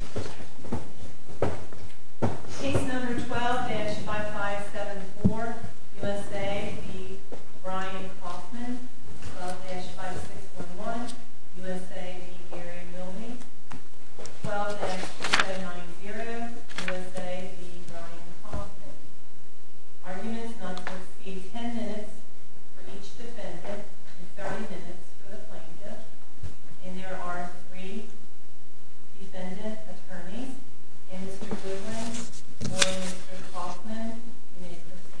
12-790 USA v. Bryan Coffman Arguments must proceed 10 minutes for each defendant and 30 minutes for the plaintiff. And there are three defendants that are in this case. The second defendant is the plaintiff. And Mr. Goodwin and Mr. Coffman may proceed.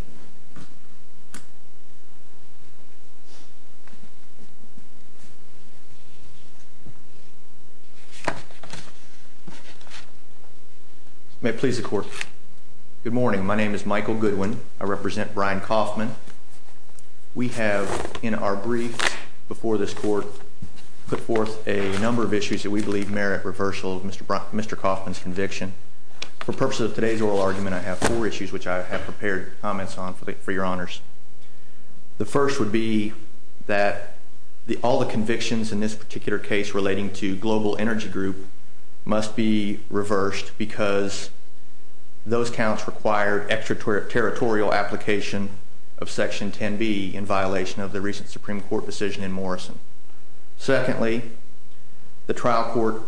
May I please the court? Good morning. My name is Michael Goodwin. I represent Bryan Coffman. We have, in our brief before this court, put forth a number of issues that we believe merit reversal of Mr. Coffman's conviction. For purposes of today's oral argument, I have four issues which I have prepared comments on for your honors. The first would be that all the convictions in this particular case relating to Global Energy Group must be reversed because those counts required extraterritorial application of Section 10B in violation of the recent Supreme Court decision in Morrison. Secondly, the trial court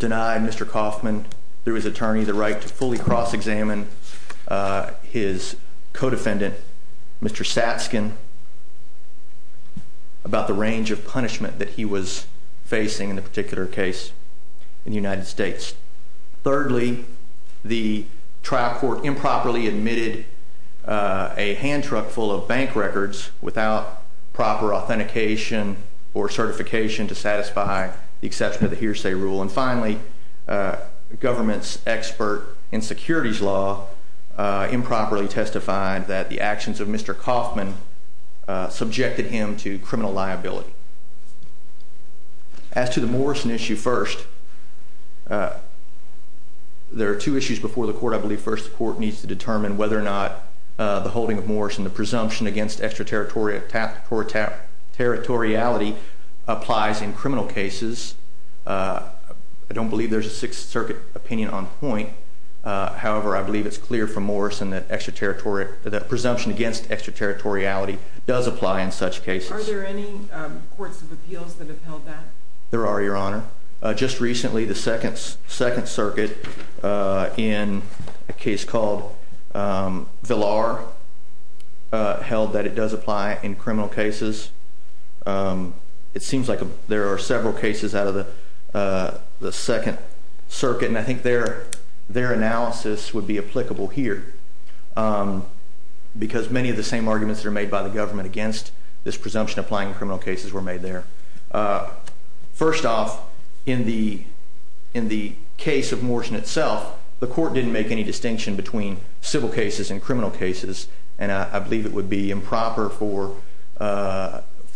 denied Mr. Coffman, through his attorney, the right to fully cross-examine his co-defendant, Mr. Sapskin, about the range of punishment that he was facing in the particular case in the United States. Thirdly, the trial court improperly admitted a hand truck full of bank records without proper authentication or certification to satisfy the exception of the hearsay rule. And finally, the government's expert in securities law improperly testified that the actions of Mr. Coffman subjected him to criminal liability. As to the Morrison issue first, there are two issues before the court. I believe first the court needs to determine whether or not the holding of Morrison, the presumption against extraterritoriality applies in criminal cases. I don't believe there's a Sixth Circuit opinion on point. However, I believe it's clear from Morrison that there are courts of appeals that have held that. There are, Your Honor. Just recently, the Second Circuit, in a case called Villar, held that it does apply in criminal cases. It seems like there are several cases out of the Second Circuit, and I think their analysis would be applicable here. Because many of the same arguments that are made by the government against this presumption applying in criminal cases were made there. First off, in the case of Morrison itself, the court didn't make any distinction between civil cases and criminal cases, and I believe it would be improper for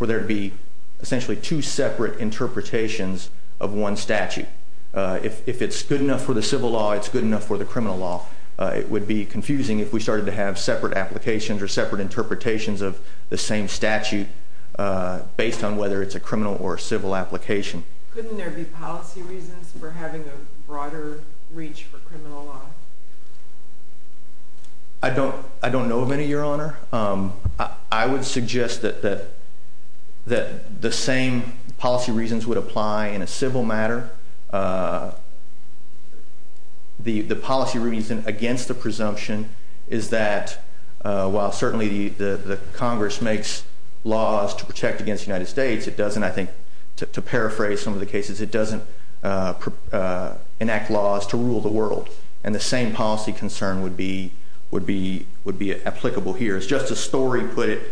there to be essentially two separate interpretations of one statute. If it's good enough for the civil law, it's good enough for the criminal law. It would be confusing if we started to have separate applications or separate interpretations of the same statute based on whether it's a criminal or a civil application. Couldn't there be policy reasons for having a broader reach for criminal law? I don't know of any, Your Honor. I would suggest that the same policy reasons would apply in a civil matter. The policy reason against the presumption is that while certainly the Congress makes laws to protect against the United States, it doesn't, I think, to paraphrase some of the cases, it doesn't enact laws to rule the world. The same policy concern would be applicable here. As Justice Story put it,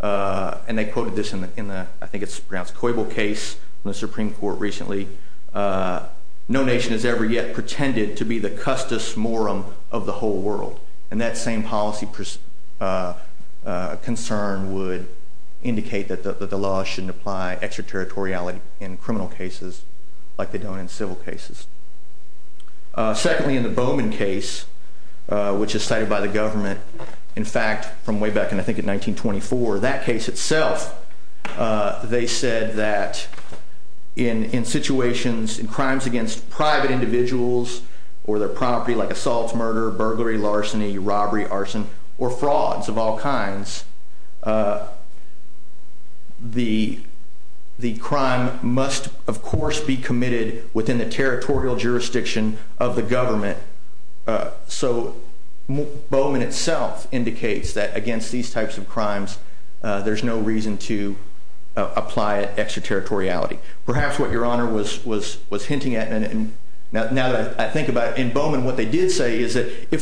and they quoted this in the, I think it's perhaps Coyble case in the Supreme Court recently, no nation has ever yet pretended to be the custis morum of the whole world, and that same policy concern would indicate that the law shouldn't apply extraterritoriality in criminal cases like they don't in civil cases. Secondly, in the Bowman case, which is cited by the government, in fact, from way back in, I think, 1924, that case itself, they said that in situations, in crimes against private individuals or their property, like assault, murder, burglary, larceny, robbery, arson, or frauds of all kinds, the crime must, of course, be committed within the territorial jurisdiction of the government. So Bowman itself indicates that against these types of crimes, there's no reason to apply extraterritoriality. Perhaps what Your Honor was hinting at, now that I think about it, in Bowman, what if there was a right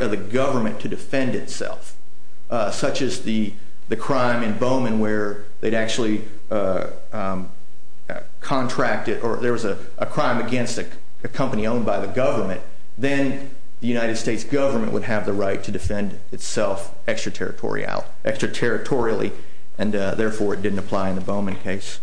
for the government to defend itself, such as the crime in Bowman where they'd actually contracted, or there was a crime against a company owned by the government, then the United States government would have the right to defend itself extraterritorially, and therefore it didn't apply in the Bowman case.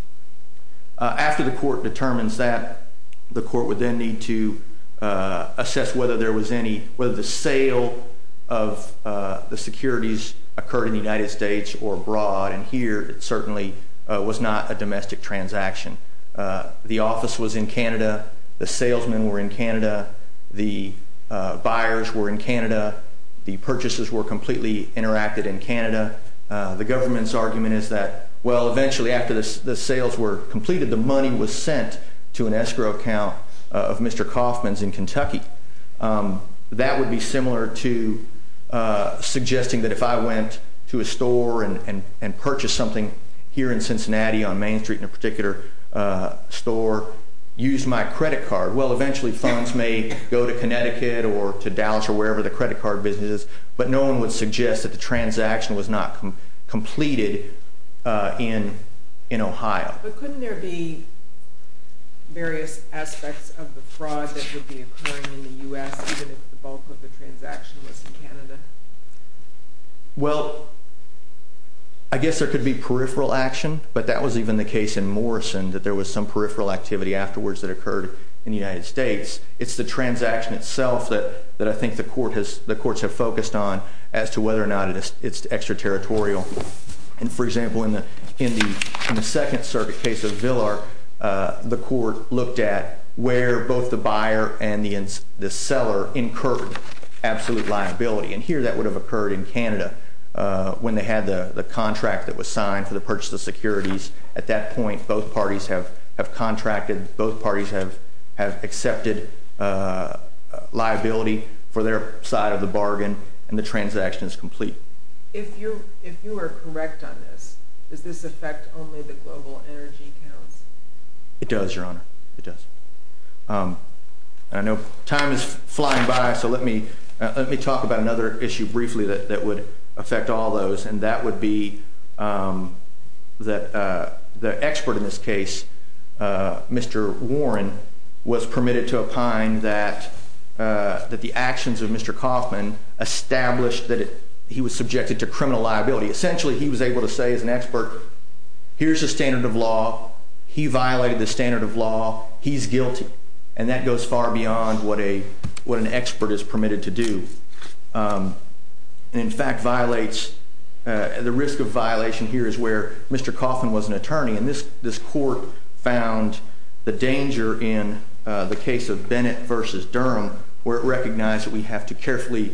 After the court determines that, the court would then need to assess whether there was any, whether the sale of the securities occurred in the United States or abroad, and here it certainly was not a domestic transaction. The office was in Canada, the salesmen were in Canada, the buyers were in Canada, the purchases were completely interacted in Canada. The government's argument is that, well, eventually after the sales were completed, the money was sent to an escrow account of Mr. Kaufman's in Kentucky. That would be similar to suggesting that if I went to a store and purchased something here in Cincinnati on Main Street in a particular store, used my credit card, well, eventually funds may go to Connecticut or to Dallas or wherever the credit card business is, but no one would suggest that the transaction was not completed in Ohio. But couldn't there be various aspects of the fraud that would be occurring in the U.S. if the bulk of the transaction was in Canada? Well, I guess there could be peripheral action, but that was even the case in Morrison, that there was some peripheral activity afterwards that occurred in the bond as to whether or not it's extraterritorial. For example, in the second case of Villar, the court looked at where both the buyer and the seller incurred absolute liability. Here that would have occurred in Canada when they had the contract that was signed for the purchase of securities. At that point, both parties have contracted, both parties have incurred liability for their side of the bargain, and the transaction is complete. If you are correct on this, does this affect only the global energy account? It does, Your Honor. It does. Time is flying by, so let me talk about another issue briefly that would affect all those, and that would be that the expert in this case, Mr. Warren, was permitted to opine that the actions of Mr. Kauffman established that he was subjected to criminal liability. Essentially, he was able to say as an expert, here's the standard of law, he violated the standard of law, he's guilty, and that goes far beyond what an expert is permitted to do. In fact, the risk of violation here is where Mr. Kauffman was an attorney, and this court found the danger in the case of Bennett versus Durham, where it recognized that we have to carefully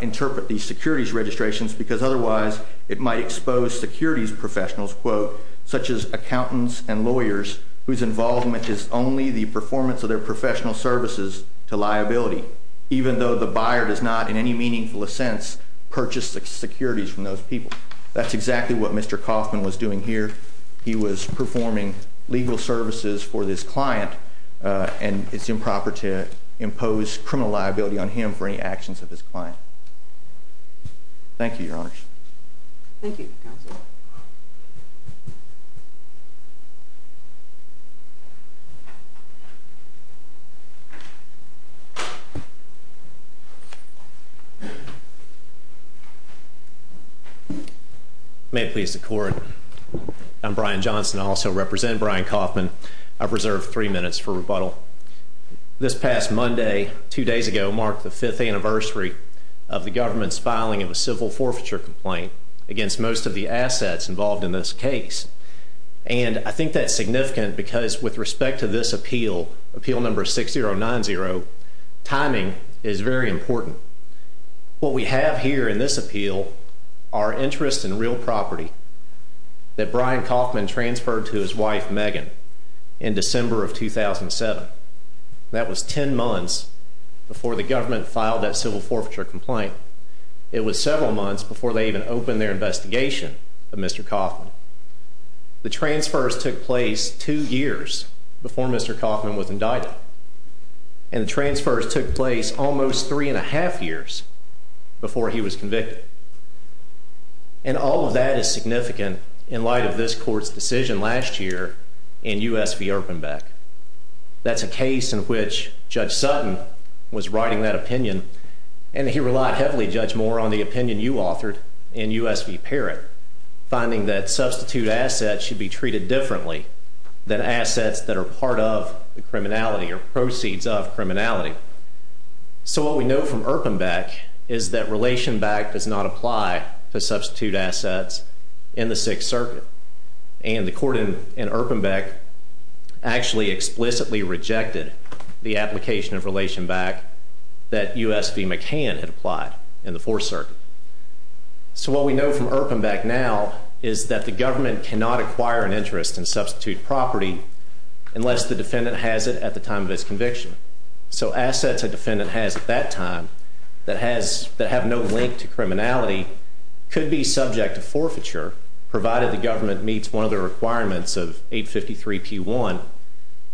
interpret these securities registrations, because otherwise it might expose securities professionals, such as accountants and lawyers, whose involvement is only the performance of their professional services to liability, even though the buyer does not, in any meaningful sense, purchase the securities from those people. That's exactly what Mr. Kauffman was doing here. He was performing legal services for this client, and it's improper to impose criminal liability on him for any actions of this client. Thank you, Your Honors. May it please the Court, I'm Brian Johnson. I also represent Brian Kauffman. I've reserved three minutes for rebuttal. This past Monday, two days ago, marked the fifth anniversary of the government's filing of a civil forfeiture complaint against most of the assets involved in this case, and I think that's significant, because with respect to this appeal, appeal number 6090, timing is very important. What we have here in this appeal are interests in real property that Brian Kauffman transferred to his wife, Megan, in December of 2007. That was ten months before the government filed that civil forfeiture complaint. It was several months before they even opened their investigation of Mr. Kauffman. The transfers took place two years before Mr. Kauffman was indicted, and transfers took place almost three and a half years before he was convicted. And all of that is significant in light of this Court's decision last year in U.S. v. Erpenbeck. That's a case in which Judge Sutton was writing that opinion, and he relied heavily, Judge Moore, on the opinion you authored in U.S. v. Parrott, finding that substitute assets should be treated differently than assets that are part of the criminality or proceeds of criminality. So what we know from Erpenbeck is that Relationback does not apply to substitute assets in the Sixth Circuit, and the Court in Erpenbeck actually explicitly rejected the application of Relationback that U.S. v. McCann had applied in the Fourth Circuit. So what we know from Erpenbeck now is that the government cannot acquire an interest in substitute property unless the defendant has it at the time of its conviction. So assets a defendant has at that time that have no link to criminality could be subject to forfeiture, provided the government meets one of the requirements of 853-P1,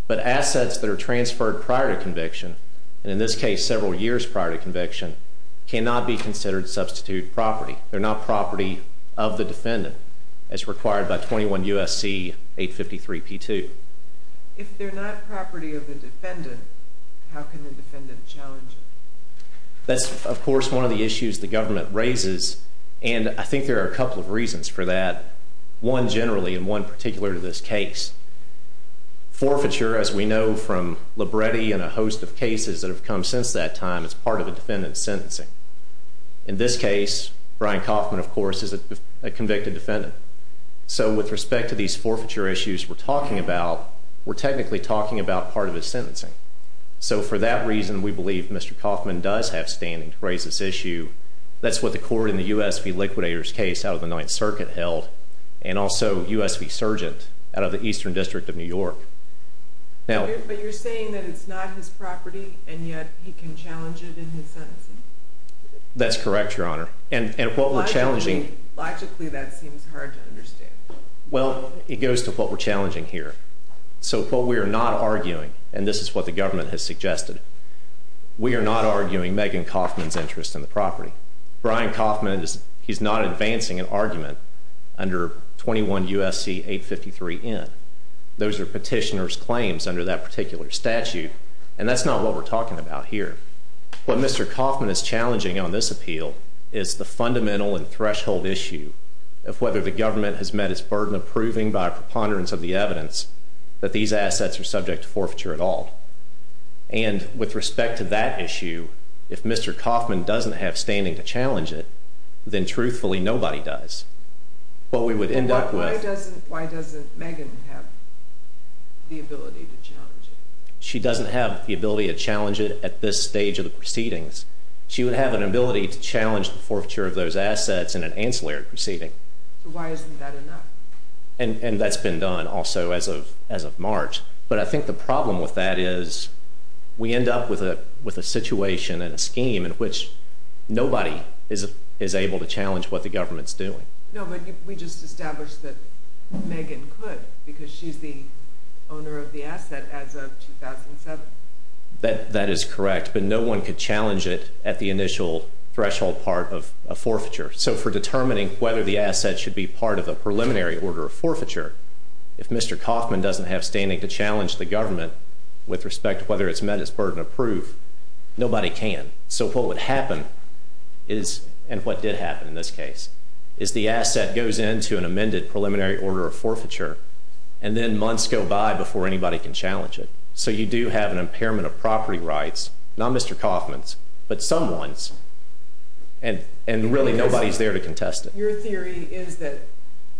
but assets that are transferred prior to conviction, and in this case several years prior to conviction, cannot be considered substitute property. They're not property of the defendant as required by 21 U.S.C. 853-P2. If they're not property of the defendant, how can the And I think there are a couple of reasons for that, one generally and one particular to this case. Forfeiture, as we know from Libretti and a host of cases that have come since that time, is part of a defendant's sentencing. In this case, Brian Kaufman, of course, is a convicted defendant. So with respect to these forfeiture issues we're talking about, we're technically talking about part of his sentencing. So for that reason we believe Mr. Kaufman does have standing for this issue. That's what the court in the U.S.V. Liquidators case out of the Ninth Circuit held, and also U.S.V. Surgeons out of the Eastern District of New York. But you're saying that it's not his property and yet he can challenge it in his sentencing? That's correct, Your Honor. And what we're challenging... Logically that seems hard to understand. Well, it goes to what we're challenging here. So what we are not arguing, and this is what the government has suggested, we are not arguing Megan Kaufman's interest in the property. Brian Kaufman is not advancing an argument under 21 U.S.C. 853N. Those are petitioner's claims under that particular statute, and that's not what we're talking about here. What Mr. Kaufman is challenging on this appeal is the fundamental and fundamental sense that these assets are subject to forfeiture at all. And with respect to that issue, if Mr. Kaufman doesn't have standing to challenge it, then truthfully nobody does. But we would end up with... Why doesn't Megan have the ability to challenge it? She doesn't have the ability to challenge it at this stage of the proceedings. She would have an ability to challenge the forfeiture of those assets in an ancillary proceeding. So why isn't that enough? And that's been done also as of March. But I think the problem with that is we end up with a situation and a scheme in which nobody is able to challenge what the government is doing. No, but we just established that Megan could because she's the owner of the asset as of 2007. That is correct. But no one could challenge it at the initial threshold part of a forfeiture. So for determining whether the asset should be part of a preliminary order of forfeiture, if Mr. Kaufman doesn't have standing to challenge the government with respect to whether it's met its burden of proof, nobody can. So what would happen, and what did happen in this case, is the asset goes into an amended preliminary order of forfeiture, and then months go by before anybody can challenge it. So you do have an impairment of property rights, not Mr. Kaufman's, but someone's. And really nobody's there to contest it. Your theory is that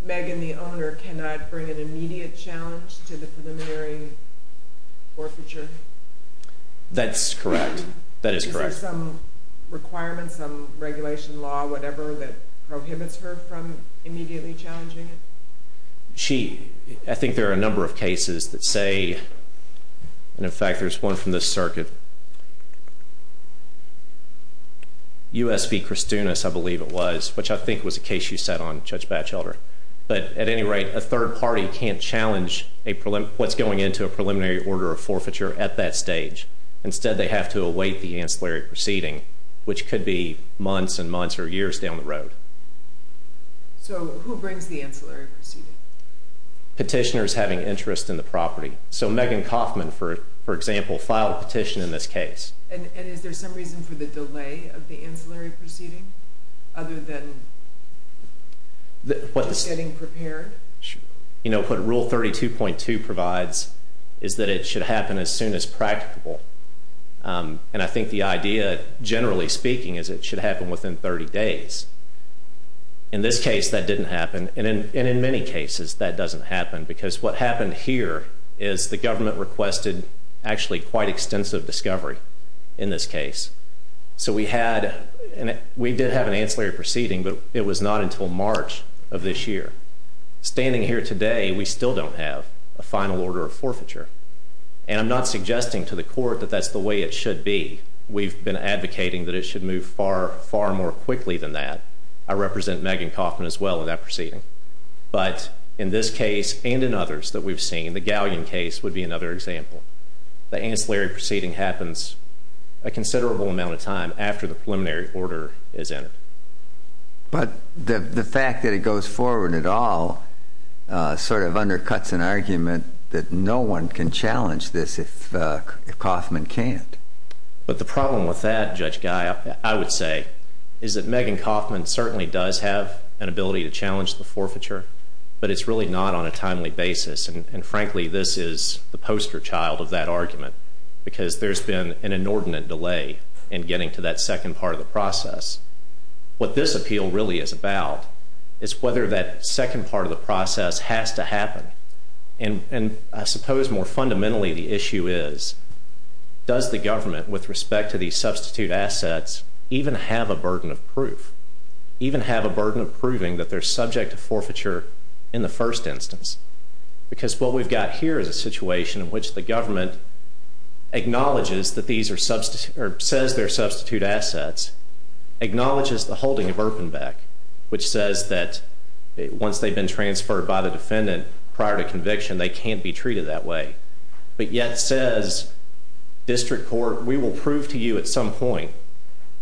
Megan, the owner, cannot bring an immediate challenge to the preliminary forfeiture? That's correct. That is correct. Is there some requirement, some regulation law, whatever that prohibits her from immediately challenging it? I think there are a number of cases that say, and in fact there's one from this circuit, U.S. v. Kristunas, I believe it was, which I think was a case you said on Judge Batchelder. But at any rate, a third party can't challenge what's going into a preliminary order of forfeiture at that stage. Instead they have to await the So who brings the ancillary proceedings? Petitioners having interest in the property. So Megan Kaufman, for example, filed a petition in this case. And is there some reason for the delay of the ancillary proceedings other than getting prepared? You know, what Rule 32.2 provides is that it should happen as soon as practicable. And I think the In this case that didn't happen. And in many cases that doesn't happen. Because what happened here is the government requested actually quite extensive discovery in this case. So we had, we did have an ancillary proceeding, but it was not until March of this year. Standing here today, we still don't have a final order of forfeiture. And I'm not suggesting to the court that that's the I represent Megan Kaufman as well in that proceeding. But in this case and in others that we've seen, the Gallium case would be another example. The ancillary proceeding happens a considerable amount of time after the preliminary order is entered. But the fact that it goes forward at all sort of undercuts an argument that no one can challenge this if Kaufman can't. But the problem with that, Judge Guy, I would say, is that Megan Kaufman certainly does have an ability to challenge the forfeiture, but it's really not on a timely basis. And frankly, this is the poster child of that argument. Because there's been an inordinate delay in getting to that second part of the process. What this appeal really is about is whether that second part of the process has to happen. And I suppose more fundamentally the issue is, does the government, with respect to these substitute assets, even have a burden of proof? Even have a burden of proving that they're subject to forfeiture in the first instance? Because what we've got here is a situation in which the government acknowledges that these are substitute or says they're substitute assets, acknowledges the holding of prior to conviction, they can't be treated that way. But yet says, District Court, we will prove to you at some point,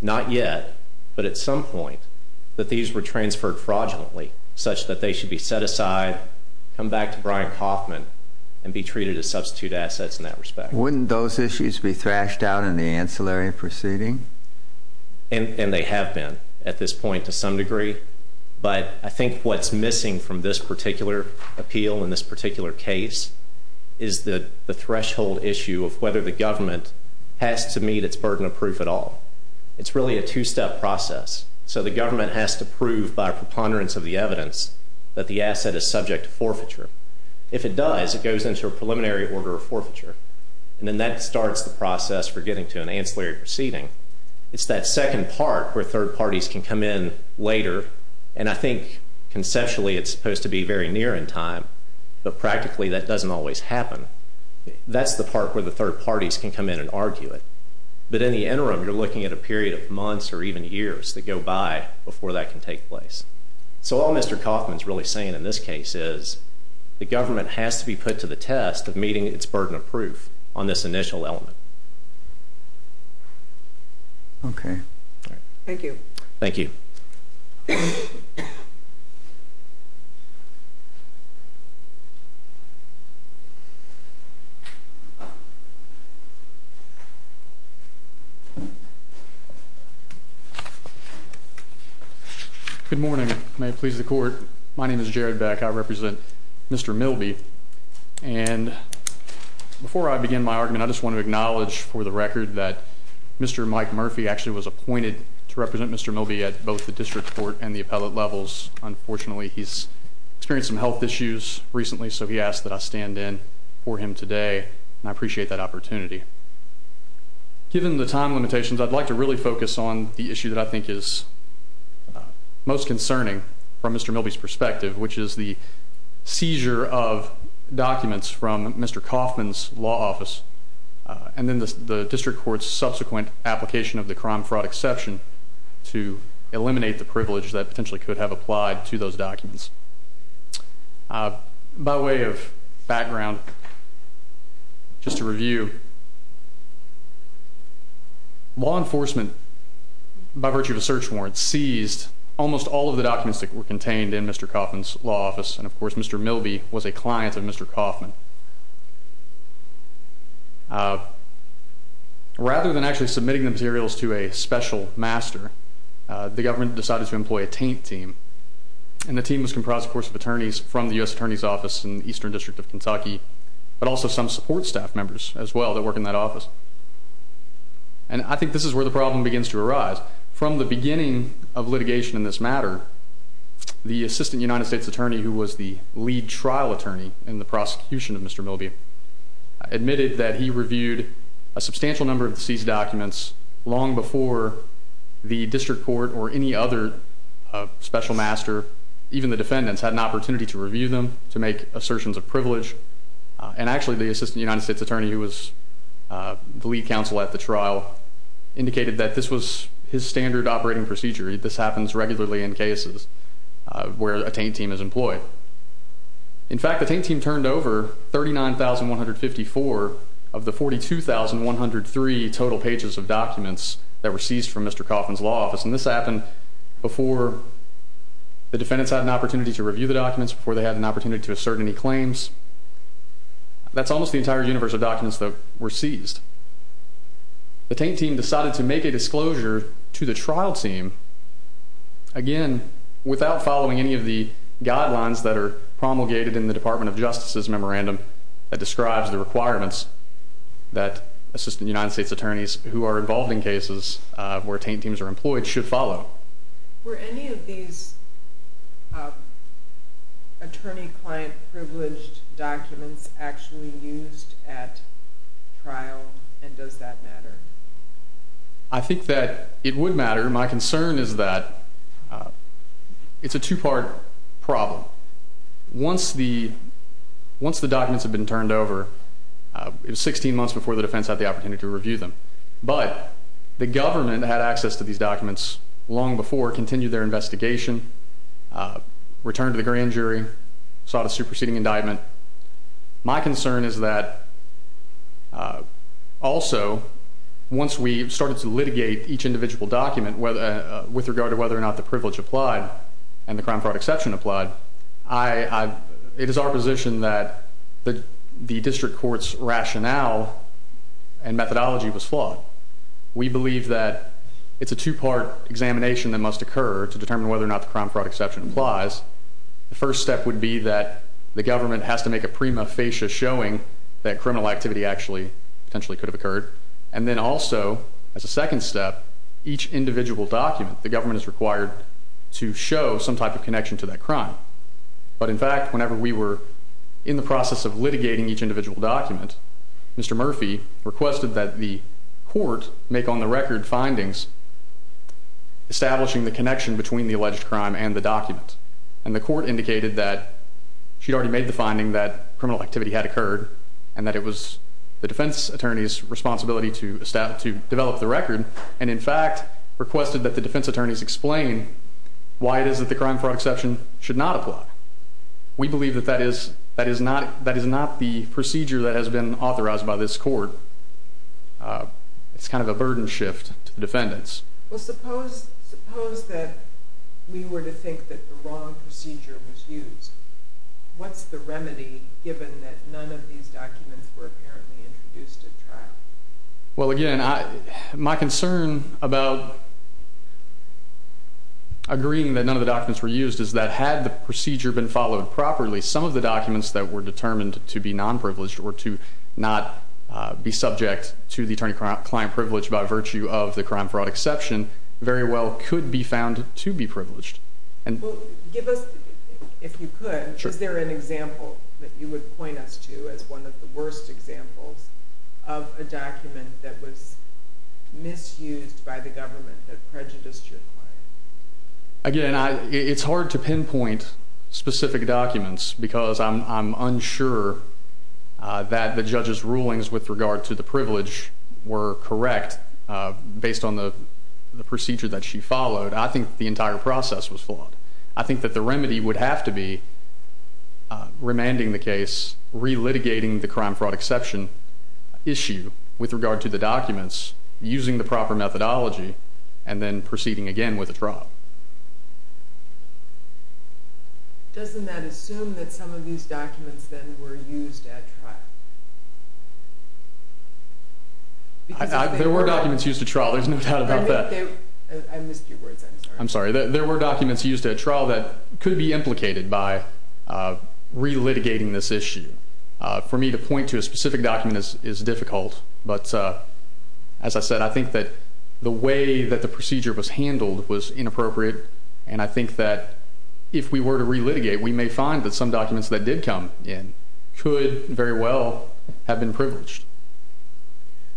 not yet, but at some point, that these were transferred fraudulently, such that they should be set aside, come back to Brian Kaufman, and be treated as substitute assets in that respect. Wouldn't those issues be thrashed out in the ancillary proceeding? And they have been at this point to some degree. But I think what's missing from this particular appeal in this particular case is the threshold issue of whether the government has to meet its burden of proof at all. It's really a two-step process. So the government has to prove by preponderance of the evidence that the asset is subject to forfeiture. If it does, it goes into a preliminary order of forfeiture. And then that starts the process for getting to an ancillary proceeding. It's that second part where third parties can come in later. And I think conceptually it's supposed to be very near in time, but practically that doesn't always happen. That's the part where the third parties can come in and argue it. But in the interim, you're looking at a period of months or even years to go by before that can take place. So all Mr. Kaufman's really saying in this case is the government has to be put to the test of meeting its burden of proof on this initial element. Okay. Thank you. Thank you. Good morning. May it please the court. My name is Jared Beck. I represent Mr. Milby. And before I begin my argument, I just want to acknowledge for the record that Mr. Mike Murphy actually was appointed to represent Mr. Milby at both the district court and the appellate levels. Unfortunately, he's experienced some health issues recently. So he asked that I stand in for him today. And I appreciate that opportunity. Given the time limitations, I'd like to really focus on the issue that I think is most concerning from Mr. Milby's perspective, which is the seizure of documents from Mr. Kaufman's law office and then the district court's subsequent application of the crime fraud exception to eliminate the privilege that potentially could have applied to those documents. By way of background, just to review, law enforcement, by virtue of a search warrant, seized almost all of the documents that were contained in Mr. Kaufman's law office. And of course, Mr. Milby was a client of Mr. Kaufman. Rather than actually submitting materials to a special master, the government decided to employ a taint team. And the team was comprised, of course, of attorneys from the U.S. Attorney's Office in the Eastern District of Kentucky, but also some support staff members as well that work in that office. And I think this is where the problem begins to arise. From the beginning of litigation in this matter, the Assistant United States Attorney, who was the lead trial attorney in the prosecution of Mr. Milby, admitted that he reviewed a substantial number of seized documents long before the district court or any other special master, even the defendants, had an opportunity to review them to make assertions. The Assistant United States Attorney, who was the lead counsel at the trial, indicated that this was his standard operating procedure. This happens regularly in cases where a taint team is employed. In fact, the taint team turned over 39,154 of the 42,103 total pages of documents that were seized from Mr. Kaufman's law office. And this happened before the defendants had an opportunity to review the documents, before they had an opportunity to assert any claims. That's almost the entire universe of documents that were seized. The taint team decided to make a disclosure to the trial team, again, without following any of the guidelines that are promulgated in the Department of Justice's memorandum that describes the requirements that Assistant United States Attorneys who are involved in cases where taint teams are employed should follow. Were any of these attorney-client-privileged documents actually used at trials, and does that matter? I think that it would matter. My concern is that it's a two-part problem. Once the government had access to these documents long before it continued their investigation, returned to the grand jury, sought a superseding indictment, my concern is that also once we started to litigate each individual document with regard to whether or not the privilege applied and the crime fraud exception applied, it is our position that the district court's rationale and methodology was flawed. We believe that it's a two-part examination that must occur to determine whether or not the crime fraud exception applies. The first step would be that the government has to make a prima facie showing that criminal activity actually potentially could have occurred, and then also as a second step, each individual document, the government is required to show some type of connection to that crime. But in fact, whenever we were in the process of litigating each individual document, Mr. Murphy requested that the court make on the record findings establishing the connection between the alleged crime and the document. And the court indicated that she'd already made the finding that criminal activity had occurred, and that it was the defense attorney's responsibility to develop the record, and in fact, requested that the defense attorney's explain why it is that the crime fraud exception should not apply. We believe that that is not the procedure that has been authorized by this court. It's kind of a burden shift to defendants. Well, suppose that we were to think that the wrong procedure was used. What's the remedy given that none of these documents were apparently introduced at trial? Well, again, my concern about agreeing that none of the documents were used is that had the procedure been followed properly, some of the documents that were determined to be non-privileged or to not be subject to the attorney-client privilege by virtue of the crime fraud exception very well could be found to be privileged. Give us, if you could, is there an example that you would point us to as one of the worst examples of a document that was misused by the government that prejudiced your client? Again, it's hard to pinpoint specific documents because I'm unsure that the judge's rulings with regard to the privilege were correct based on the procedure that she followed. I think the entire process was flawed. I think that the remedy would have to be remanding the case, relitigating the crime fraud exception issue with regard to the documents, using the proper methodology, and then proceeding again with the trial. Doesn't that assume that some of these documents then were used at trial? There were documents used at trial. There's no doubt about that. There were documents used at trial that could be implicated by relitigating this issue. For me to point to a specific document is difficult. As I said, I think that the way that the procedure was handled was inappropriate. I think that if we were to relitigate, we may find that some documents that did come in could very well have been privileged.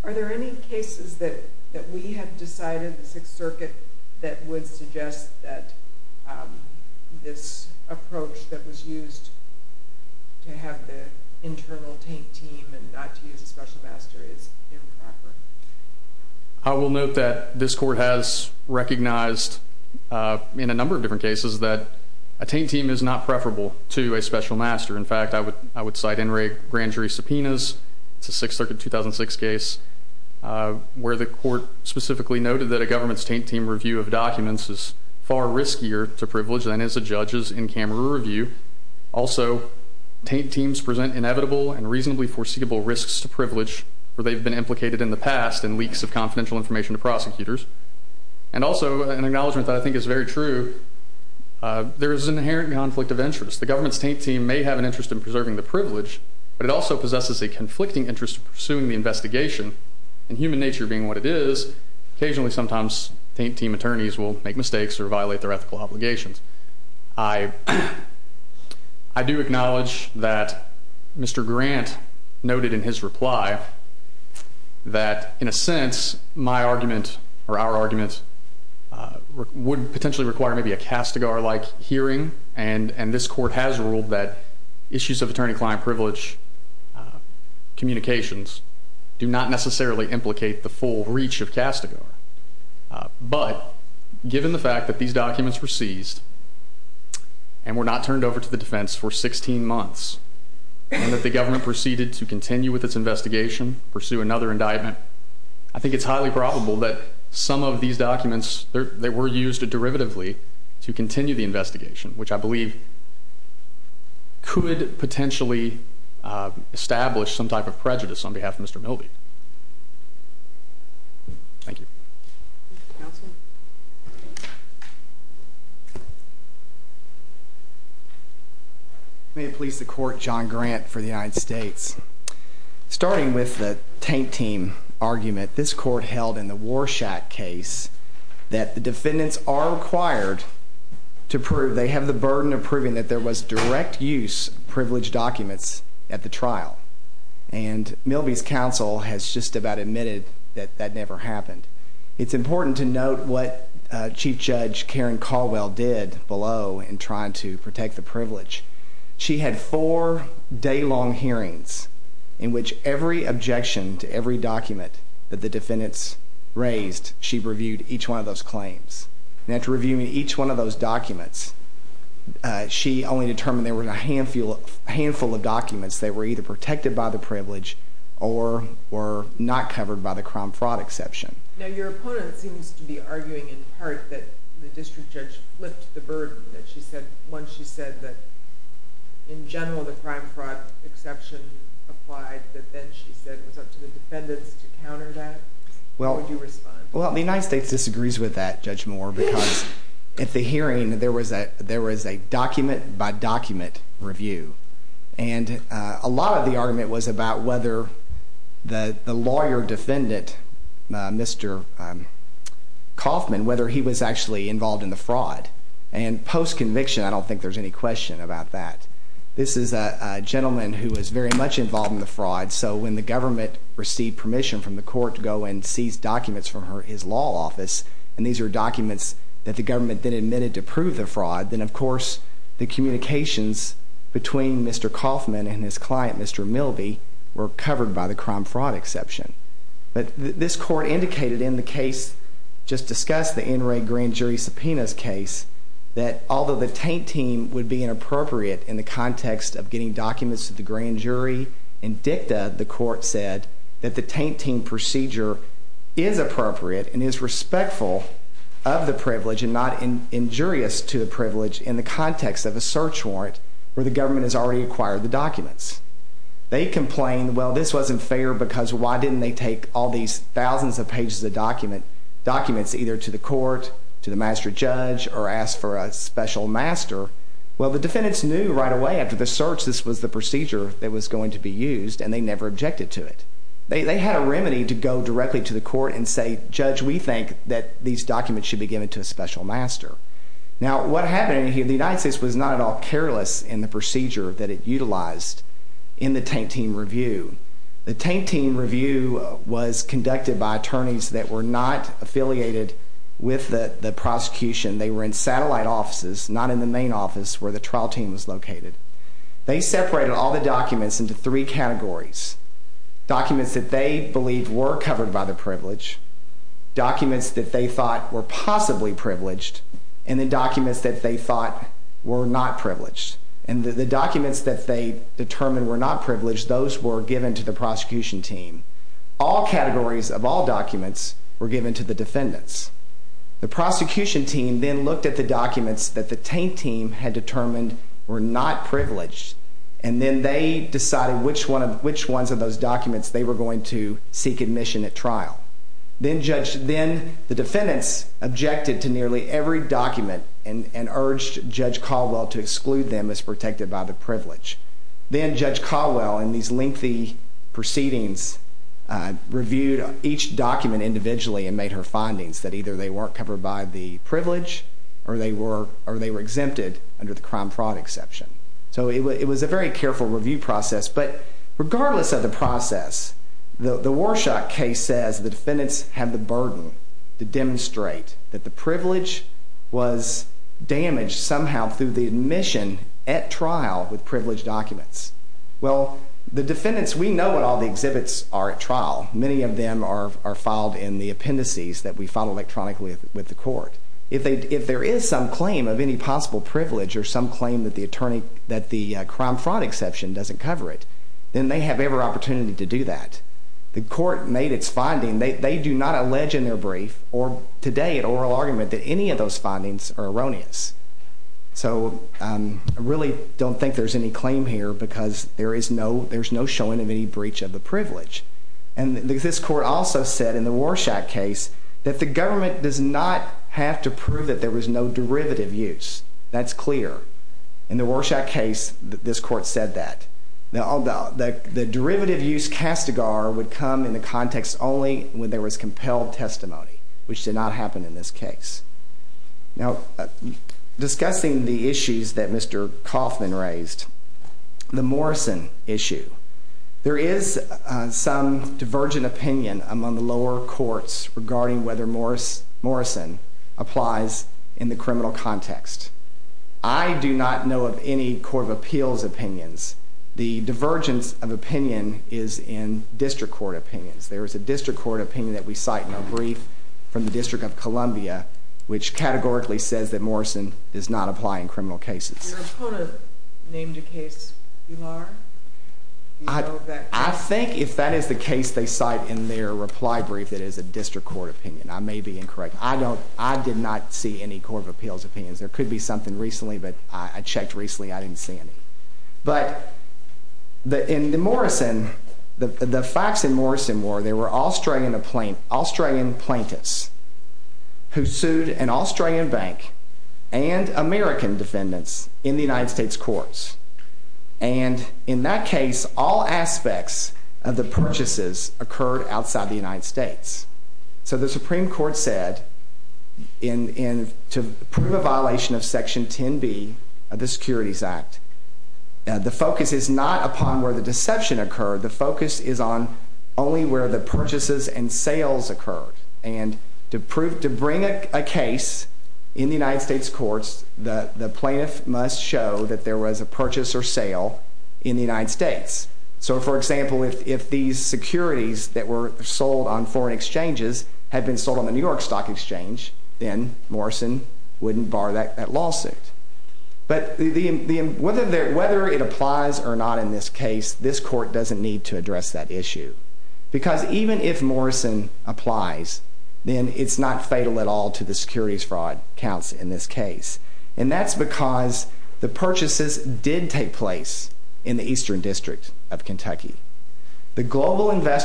Are there any cases that we have decided, the Sixth Circuit, that would suggest that this approach that was used to have the internal taint team and not to use the special master is improper? I will note that this court has recognized in a number of different cases that a taint team is not preferable to a special master. In fact, I would cite Enright grand jury subpoenas, the Sixth Circuit 2006 case, where the court specifically noted that a government's taint team review of documents is far riskier to privilege than is a judge's in-camera review. Also, taint teams present inevitable and reasonably foreseeable risks to privilege where they've been implicated in the past in leaks of confidential information to prosecutors. Also, an acknowledgment that I think is very true, there is an inherent conflict of interest. The government's taint team may have an interest in preserving the privilege, but it also possesses a conflicting interest in pursuing the investigation. In human nature being what it is, occasionally sometimes people make mistakes or violate their ethical obligations. I do acknowledge that Mr. Grant noted in his reply that in a sense, my argument or our argument would potentially require maybe a Castigar-like hearing, and this court has ruled that issues of attorney-client privilege communications do not necessarily implicate the full reach of Castigar. But given the fact that these documents were seized and were not turned over to the defense for 16 months, and that the government proceeded to continue with its investigation, pursue another indictment, I think it's highly probable that some of these documents that were used derivatively to continue the investigation, which I believe could potentially establish some type of prejudice on behalf of Mr. Milby. May it please the court, John Grant for the United States. Starting with the taint team argument, this court held in the Warshak case that the defendants are required to prove, they have the burden of proving that there was direct use of privileged documents at the trial. And Milby's counsel has just about admitted that that never happened. It's important to note what Chief Judge Karen Caldwell did below in trying to protect the privilege. She had four day-long hearings in which every objection to every document that the defendants raised, she reviewed each one of those claims. And after reviewing each one of those documents, she only determined there were a handful of documents that were either protected by the privilege or were not covered by the crime fraud exception. Now your opponent seems to be arguing in part that the district judge flipped the burden. Once she said that in general the crime fraud exception applied, but then she said it was up to the defendants to counter that. How would you respond? Well, the United States disagrees with that, Judge Moore, because at the hearing there was a document by document review. And a lot of the argument was about whether the lawyer defendant, Mr. Kaufman, whether he was actually involved in the fraud. And post-conviction, I don't think there's any question about that. This is a gentleman who was very much involved in the fraud. So when the government received permission from the court to go and seize documents from his law office, and these are documents that the government then admitted to prove the fraud, then of course the communications between Mr. Kaufman and his client, Mr. Milby, were covered by the crime fraud exception. But this court indicated in the case just discussed, the NRA grand jury subpoenas case, that although the taint team would be inappropriate in the context of getting documents to the grand jury, in dicta the court said that the taint team procedure is appropriate and is respectful of the privilege and not injurious to the privilege in the case. So the defendants complained, well, this wasn't fair because why didn't they take all these thousands of pages of documents either to the court, to the master judge, or ask for a special master? Well, the defendants knew right away after the search this was the procedure that was going to be used, and they never objected to it. They had a remedy to go directly to the court and say, judge, we think that these documents should be given to a special master. Now, what happened, the United States was not at all careless in the procedure that it utilized in the taint team review. The taint team review was conducted by attorneys that were not affiliated with the prosecution. They were in satellite offices, not in the main office where the trial team was located. They separated all the documents into three categories. Documents that they believed were covered by the privilege, documents that they thought were possibly privileged, and then documents that they thought were not privileged. And the documents that they determined were not privileged, those were given to the prosecution team. All categories of all documents were given to the defendants. The prosecution team then looked at the documents that the taint team had determined were not privileged, and then they decided which ones of those documents they were going to seek admission at trial. Then the defendants objected to nearly every document and urged Judge Caldwell to exclude them as protected by the privilege. Then Judge Caldwell, in these lengthy proceedings, reviewed each document individually and made her findings that either they weren't covered by the it was a very careful review process. But regardless of the process, the Warshak case says the defendants had the burden to demonstrate that the privilege was damaged somehow through the admission at trial with privileged documents. Well, the defendants, we know what all the exhibits are at trial. Many of them are filed in the appendices that we file electronically with the court. If there is some claim of any possible privilege or some claim that the crime fraud exception doesn't cover it, then they have every opportunity to do that. The court made its finding. They do not allege in their brief or today in oral argument that any of those findings are erroneous. So I really don't think there's any claim here because there's no showing of any breach of the privilege. And this court also said in the Warshak case that the government does not have to prove that there was no derivative use. That's clear. In the Warshak case, this court said that. Now, the derivative use would come in the context only when there was compelled testimony, which did not happen in this case. Now, discussing the issues that Mr. Kaufman raised, the Morrison issue, there is some divergent opinion among the lower courts regarding whether Morrison applies in the criminal context. I do not know of any Court of Appeals opinions. The divergence of opinion is in district court opinions. There is a district court opinion that we cite in a brief from the District of Columbia which categorically says that Morrison does not apply in criminal cases. I think if that is the case they cite in their reply brief, it is a district court opinion. I may be incorrect. I did not see any Court of Appeals opinions. There could be something recently, but I checked recently. I didn't see any. But in the Morrison, the facts in Morrison were there were Australian plaintiffs who sued an Australian bank and American defendants in the United States courts. In that case, all aspects of the purchases occurred outside the United States. The Supreme Court said to prove a violation of Section 10B of the Securities Act, the focus is not upon where the deception occurred. The focus is on only where the purchases and sales occurred. To bring a case in the United States courts, the plaintiff must show that there was a purchase or sale in the United States. For example, if these securities that were sold on foreign exchanges had been sold on the New York Stock Exchange, then Morrison wouldn't bar that lawsuit. Whether it applies or not in this case, this court doesn't need to address that issue. Because even if Morrison applies, then it's not fatal at all to the securities fraud counts in this case. And that's because the purchases did take place in the Eastern District of Kentucky. The global central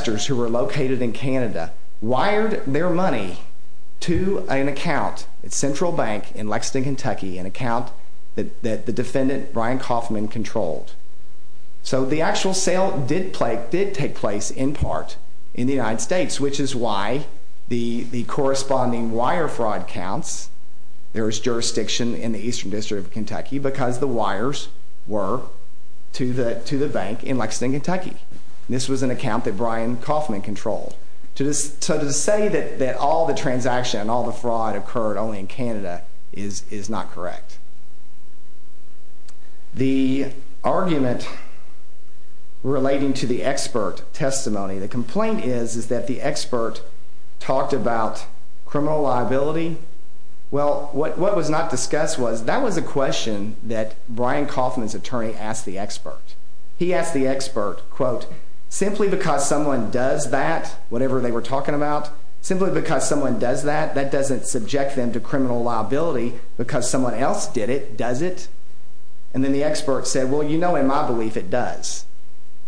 bank in Lexington, Kentucky, an account that the defendant, Brian Kauffman, controlled. So the actual sale did take place in part in the United States, which is why the corresponding wire fraud counts, there was jurisdiction in the Eastern District of Kentucky because the wires were to the bank in Lexington, Kentucky. This was an account that all the transaction and all the fraud occurred only in Canada is not correct. The argument relating to the expert testimony, the complaint is that the expert talked about criminal liability. Well, what was not discussed was that was a question that Brian Kauffman's attorney asked the expert. He asked the expert, quote, simply because someone does that, whatever they were talking about, simply because someone does that, that doesn't subject them to criminal liability because someone else did it, does it? And then the expert said, well, you know in my belief it does.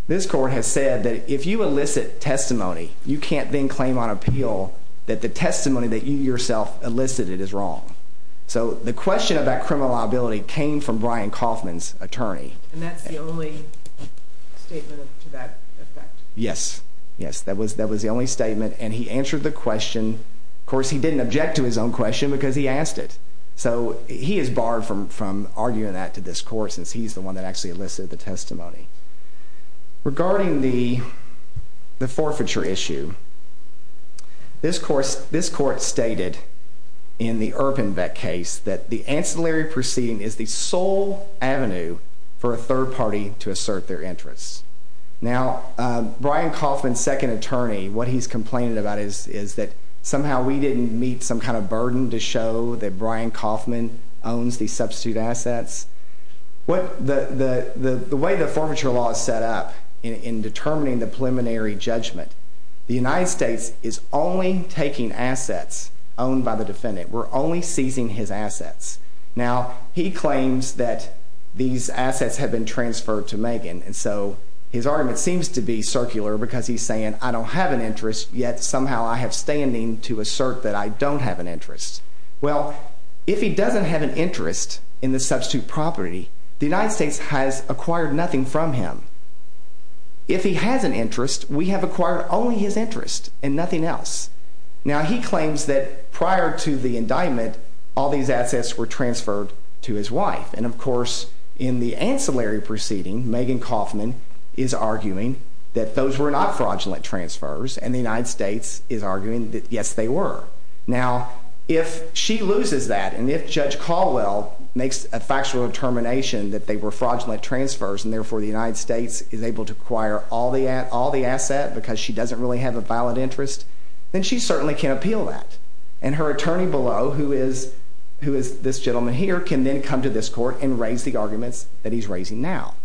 This court has said that if you elicit testimony, you can't then claim on appeal that the testimony that you yourself elicited is wrong. So the question about criminal liability came from Brian Kauffman's attorney. And that's the only statement to that effect? Yes. Yes, that was the only statement and he answered the question. Of course, he didn't object to his own question because he asked it. So he is barred from arguing that to this court since he's the one that actually elicited the testimony. Regarding the forfeiture issue, this court stated in the Urban Vet case that the ancillary proceeding is the sole avenue for a third party to assert their interests. Now, Brian Kauffman's second attorney, what he's complaining about is that somehow we didn't meet some kind of burden to show that Brian Kauffman owns these substitute assets. The way the forfeiture law is set up in determining the preliminary judgment, the United States is only taking assets owned by the defendant. We're only seizing his assets. Now, he claims that these assets have been transferred to Megan, and so his argument seems to be circular because he's saying I don't have an interest, yet somehow I have standing to assert that I don't have an interest. Well, if he doesn't have an interest in the substitute property, the United States has acquired nothing from him. If he has an interest, we have acquired only his interest and nothing else. Now, he claims that prior to the indictment, all these assets were transferred to his wife. And, of course, in the ancillary proceeding, Megan Kauffman is arguing that those were not fraudulent transfers, and the United States is arguing that, yes, they were. Now, if she loses that and if Judge Caldwell makes a factual determination that they were fraudulent transfers and, therefore, the United States is able to acquire all the assets because she doesn't really have a valid interest, then she certainly can appeal that. And her attorney below, who is this gentleman here, can then come to this court and raise the arguments that he's raising now.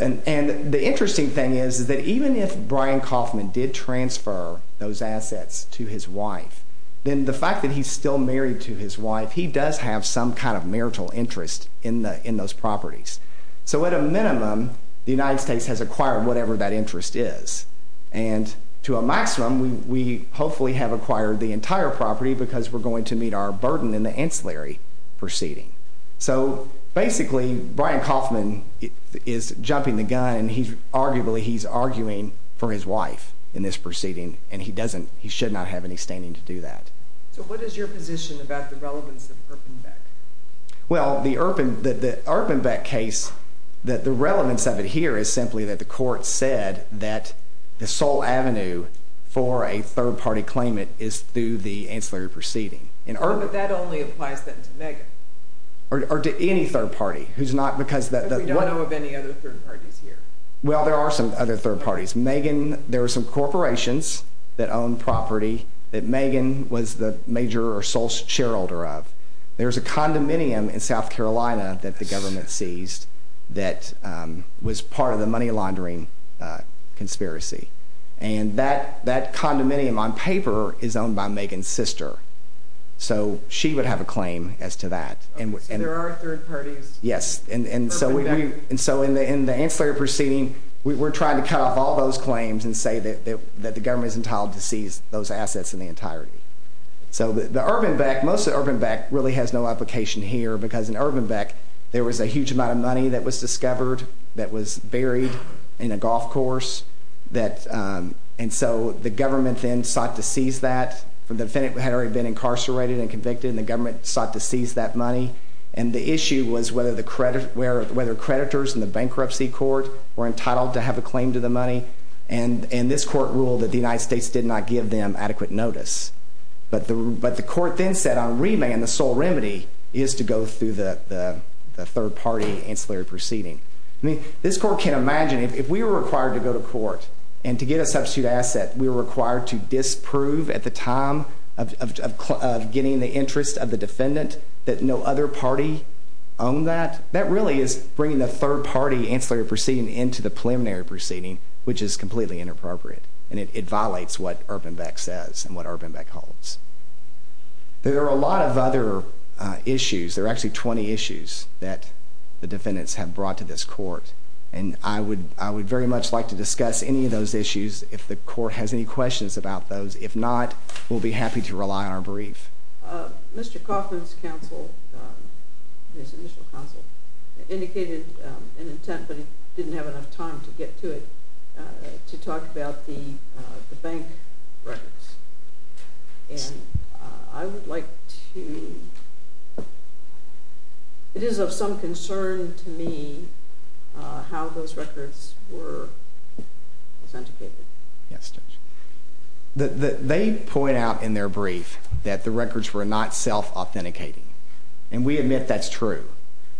And the interesting thing is that even if Brian Kauffman did transfer those assets to his wife, then the fact that he's still married to his wife, he does have some kind of marital interest in those properties. So at a minimum, the United States has acquired whatever that interest is. And to a maximum, we hopefully have acquired the entire property because we're going to meet our burden in the ancillary proceeding. So basically, Brian Kauffman is jumping the gun. Arguably, he's arguing for his wife in this proceeding, and he doesn't – he should not have any standing to do that. So what is your position about the relevance of the Erpenbeck case? Well, the Erpenbeck case, the relevance of it here is simply that the court said that the sole avenue for a third-party claimant is through the ancillary proceeding. But that only applies to Megan. Or to any third-party. It's not because – We don't know of any other third-parties here. Well, there are some other third-parties. Megan – there are some corporations that own property that Megan was the major or sole shareholder of. There's a condominium in South Carolina that the government seized that was part of the money laundering conspiracy. And that condominium on paper is owned by Megan's sister. So she would have a claim as to that. And there are third-parties. Yes. And so in the ancillary proceeding, we're trying to count off all those claims and say that the government is entitled to seize those assets in the entirety. So the Erpenbeck – most of the Erpenbeck really has no application here because in Erpenbeck, there was a huge amount of money that was discovered that was buried in the golf course. And so the government then sought to seize that. The defendant had already been incarcerated and convicted, and the government sought to seize that money. And the issue was whether creditors in the bankruptcy court were entitled to have a claim to the money. And this court ruled that the United States did not give them adequate notice. But the court then said on remand, the sole remedy is to go through the third-party ancillary proceeding. I mean, this court can imagine if we were required to go to court and to get a substitute asset, we were required to disprove at the time of getting the interest of the defendant that no other party owned that, that really is bringing a third-party ancillary proceeding into the preliminary proceeding, which is completely inappropriate. And it violates what Erpenbeck says and what Erpenbeck holds. There are a lot of other issues. There are actually 20 issues that the defendants have brought to this court. And I would very much like to discuss any of those issues if the court has any questions about those. If not, we'll be happy to rely on our brief. Mr. Kaufman's counsel indicated an intent that he didn't have enough time to get to it. He talked about the bank records. And I would like to, it is of some concern to me how those records were authenticated. They point out in their brief that the records were not self-authenticating. And we admit that's true.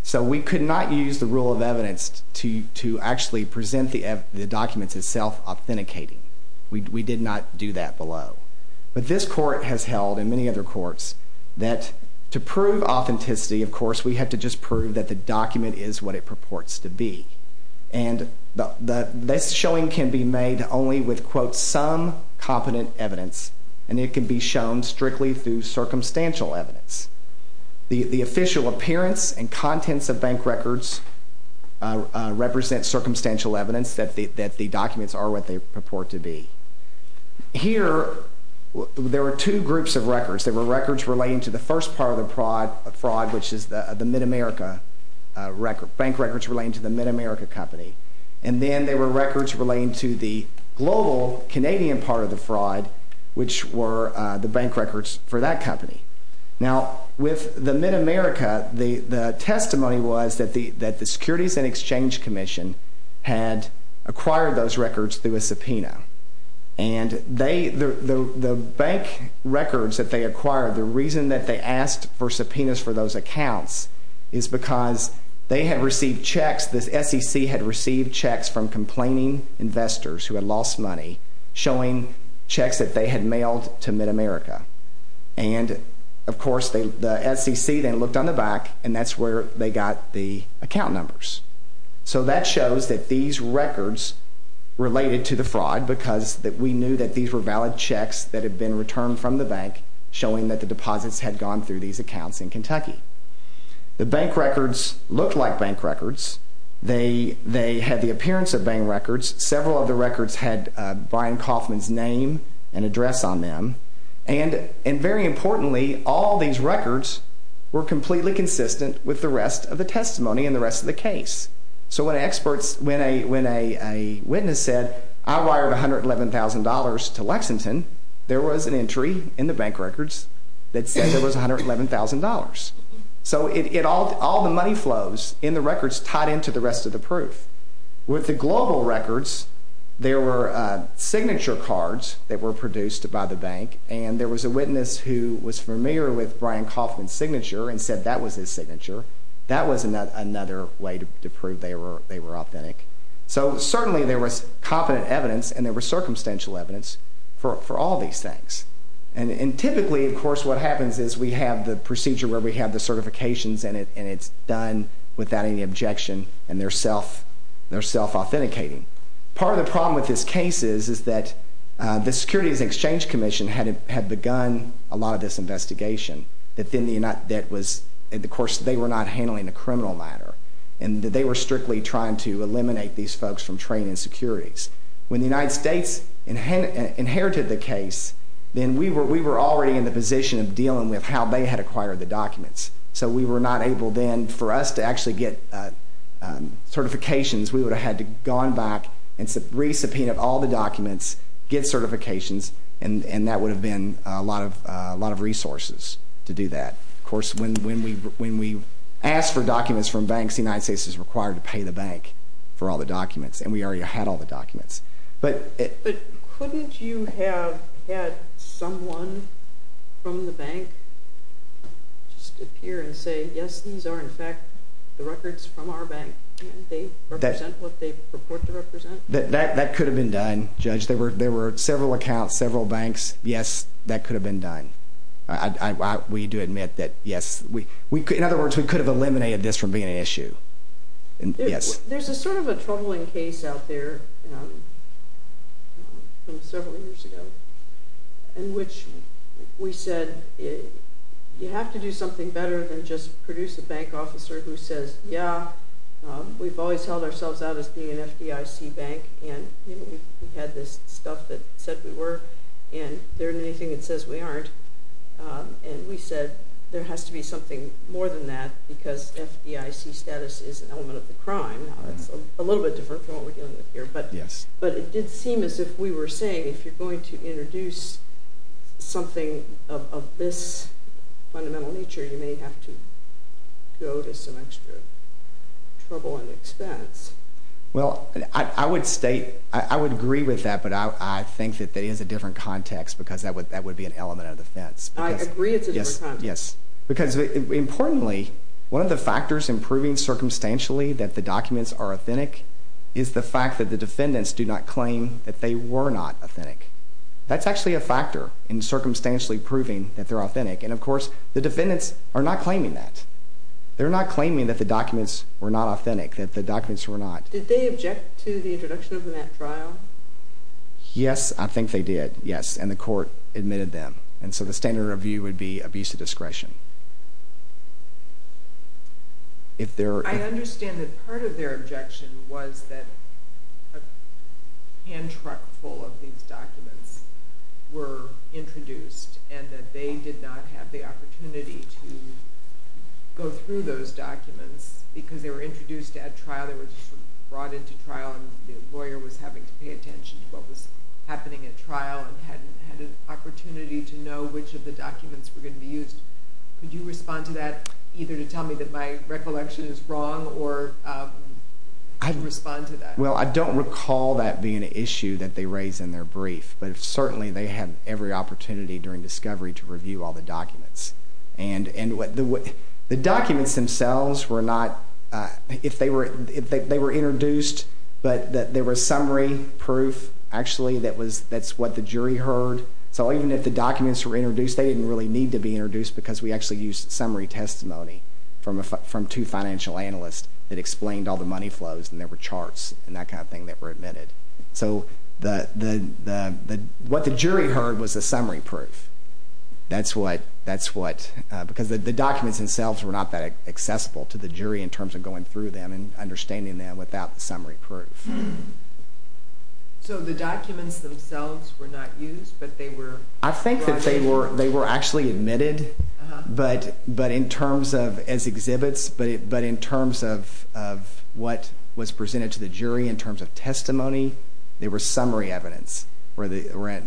So we could not use the rule of evidence to actually present the document as self-authenticating. We did not do that below. But this court has held, and many other courts, that to prove authenticity, of course, we have to just prove that the document is what it purports to be. And this showing can be made only with, quote, some competent evidence. And it can be shown strictly through circumstantial evidence. The official appearance and contents of bank records represent circumstantial evidence that the documents are what they purport to be. Here, there are two groups of records. There are records relating to the first part of the fraud, which is the Mid-America record. Bank records relating to the Mid-America company. And then there were records relating to the global Canadian part of the fraud, which were the bank records for that company. Now, with the Mid-America, the testimony was that the Securities and Exchange Commission had acquired those records through a subpoena. And the bank records that they acquired, the reason that they asked for subpoenas for those accounts is because they had received checks, the SEC had received checks from complaining investors who had lost money, showing checks that they had mailed to Mid-America. And, of course, the SEC then looked on the back, and that's where they got the account numbers. So that shows that these records related to the fraud because we knew that these were valid checks that had been returned from the bank showing that the deposits had gone through these accounts in Kentucky. The bank records looked like bank records. They had the appearance of bank records. Several of the records had Brian Kaufman's name and address on them. And very importantly, all these records were completely consistent with the rest of the testimony and the rest of the case. So when a witness said, I wired $111,000 to Lexington, there was an entry in the bank records that said it was $111,000. So all the money flows in the records tied into the rest of the proof. With the global records, there were signature cards that were produced by the bank, and there was a witness who was familiar with Brian Kaufman's signature and said that was his signature. That was another way to prove they were authentic. So certainly there was competent evidence, and there was circumstantial evidence for all these things. And typically, of course, what happens is we have the procedure where we have the certifications in it, and it's done without any objection, and they're self-authenticating. Part of the problem with this case is that the Securities and Exchange Commission had begun a lot of this investigation. Of course, they were not handling the criminal matter, and they were strictly trying to eliminate these folks from trading securities. When the United States inherited the case, then we were already in the position of dealing with how they had acquired the documents. So we were not able then for us to actually get certifications. We would have had to have gone back and re-subpoenaed all the documents, get certifications, and that would have been a lot of resources to do that. Of course, when we ask for documents from banks, the United States is required to pay the bank for all the documents, and we already had all the documents. But couldn't you have had someone from the bank just appear and say, yes, these are in fact the records from our bank, and they represent what they purport to represent? That could have been done, Judge. There were several accounts, several banks. Yes, that could have been done. We do admit that, yes. In other words, we could have eliminated this from being an issue. There's a troubling case out there from several years ago in which we said, you have to do something better than just produce a bank officer who says, yeah, we've always held ourselves out as being an FBIC bank, and we've had this stuff that said we were, and there isn't anything that says we aren't. And we said there has to be something more than that because FBIC status is an element of the crime. It's a little bit different from what we're dealing with here, but it did seem as if we were saying if you're going to introduce something of this fundamental nature, you may have to go to some extra trouble and expense. Well, I would agree with that, but I think that that is a different context because that would be an element of defense. I agree it's a different context. Because importantly, one of the factors in proving circumstantially that the documents are authentic is the fact that the defendants do not claim that they were not authentic. That's actually a factor in circumstantially proving that they're authentic. And, of course, the defendants are not claiming that. They're not claiming that the documents were not authentic, that the documents were not. Did they object to the introduction of the net trial? Yes, I think they did, yes, and the court admitted them. And so the standard review would be abuse of discretion. I understand that part of their objection was that a hand truck full of these documents were introduced and that they did not have the opportunity to go through those documents because they were introduced at trial, they were brought into trial, and the lawyer was having to pay attention to what was happening at trial and hadn't had an opportunity to know which of the documents were going to be used. Could you respond to that, either to tell me that my recollection is wrong or respond to that? Well, I don't recall that being an issue that they raised in their brief, but certainly they had every opportunity during discovery to review all the documents. And the documents themselves were not, if they were introduced, but they were summary proof actually. That's what the jury heard. So even if the documents were introduced, they didn't really need to be introduced because we actually used summary testimony from two financial analysts that explained all the money flows and there were charts and that kind of thing that were admitted. So what the jury heard was the summary proof. That's what, because the documents themselves were not that accessible to the jury in terms of going through them and understanding them without summary proof. So the documents themselves were not used, but they were brought in? I think that they were actually admitted, but in terms of, as exhibits, but in terms of what was presented to the jury in terms of testimony, they were summary evidence where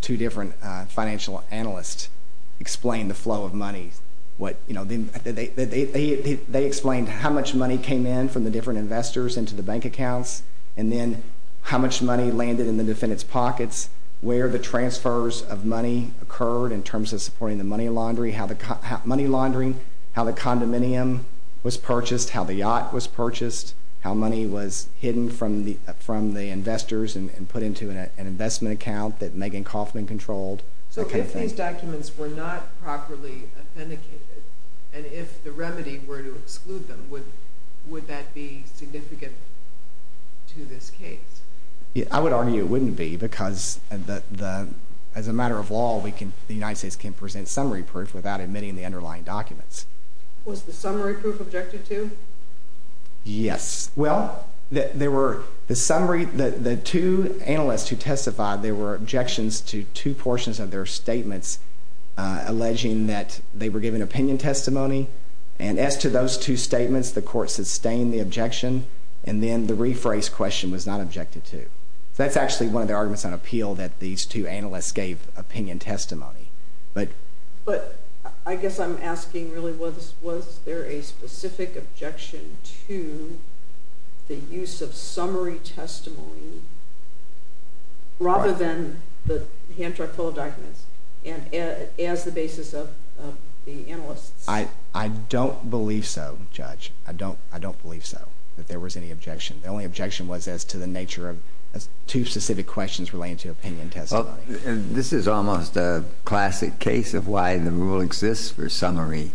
two different financial analysts explained the flow of money. They explained how much money came in from the different investors into the bank accounts and then how much money landed in the defendant's pockets, where the transfers of money occurred in terms of supporting the money laundry, how the condominium was purchased, how the yacht was purchased, how money was hidden from the investors and put into an investment account that Megan Kaufman controlled. So if these documents were not properly authenticated and if the remedy were to exclude them, would that be significant to this case? I would argue it wouldn't be because as a matter of law, the United States can present summary proof without admitting the underlying documents. Was the summary proof objected to? Yes. Well, the two analysts who testified, there were objections to two portions of their statements alleging that they were given opinion testimony and as to those two statements, the court sustained the objection and then the rephrase question was not objected to. That's actually one of the arguments on appeal that these two analysts gave opinion testimony. But I guess I'm asking really was there a specific objection to the use of summary testimony rather than the Hancher-Fuller documents as the basis of the analysis? I don't believe so, Judge. I don't believe so that there was any objection. The only objection was as to the nature of two specific questions relating to opinion testimony. This is almost a classic case of why the rule exists for summary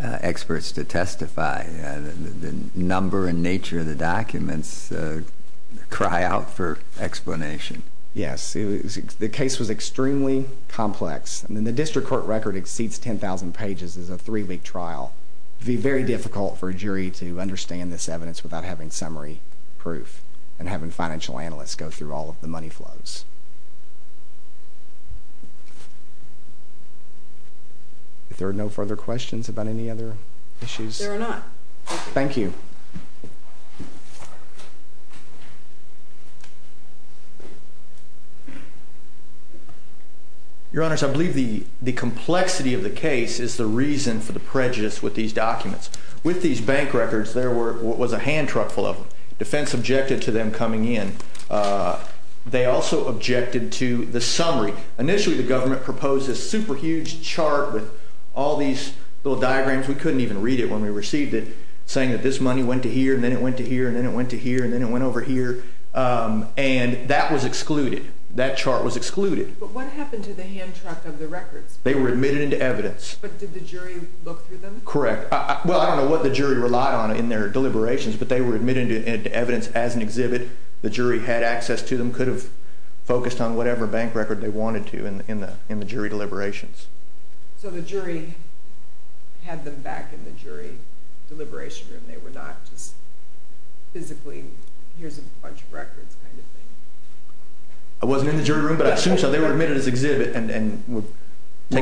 experts to testify. The number and nature of the documents cry out for explanation. Yes. The case was extremely complex. The district court record exceeds 10,000 pages. It's a three-week trial. It would be very difficult for a jury to understand this evidence without having summary proof and having financial analysts go through all of the money flows. If there are no further questions about any other issues. There are not. Thank you. Your Honor, I believe the complexity of the case is the reason for the prejudice with these documents. With these bank records, there was a Hancher-Fuller. Defense objected to them coming in. They also objected to the summary. Initially, the government proposed this super huge chart with all these little diagrams. We couldn't even read it when we received it. Saying that this money went to here, and then it went to here, and then it went to here, and then it went over here. That was excluded. That chart was excluded. What happened to the hand chart of the record? They were admitted into evidence. Did the jury look through them? Correct. I don't know what the jury relied on in their deliberations, but they were admitted into evidence as an exhibit. The jury had access to them, could have focused on whatever bank record they wanted to in the jury deliberations. So the jury had them back in the jury deliberation room. They were not just physically, here's a bunch of records, kind of thing. I wasn't in the jury room, but I assume so. They were admitted as exhibit. Were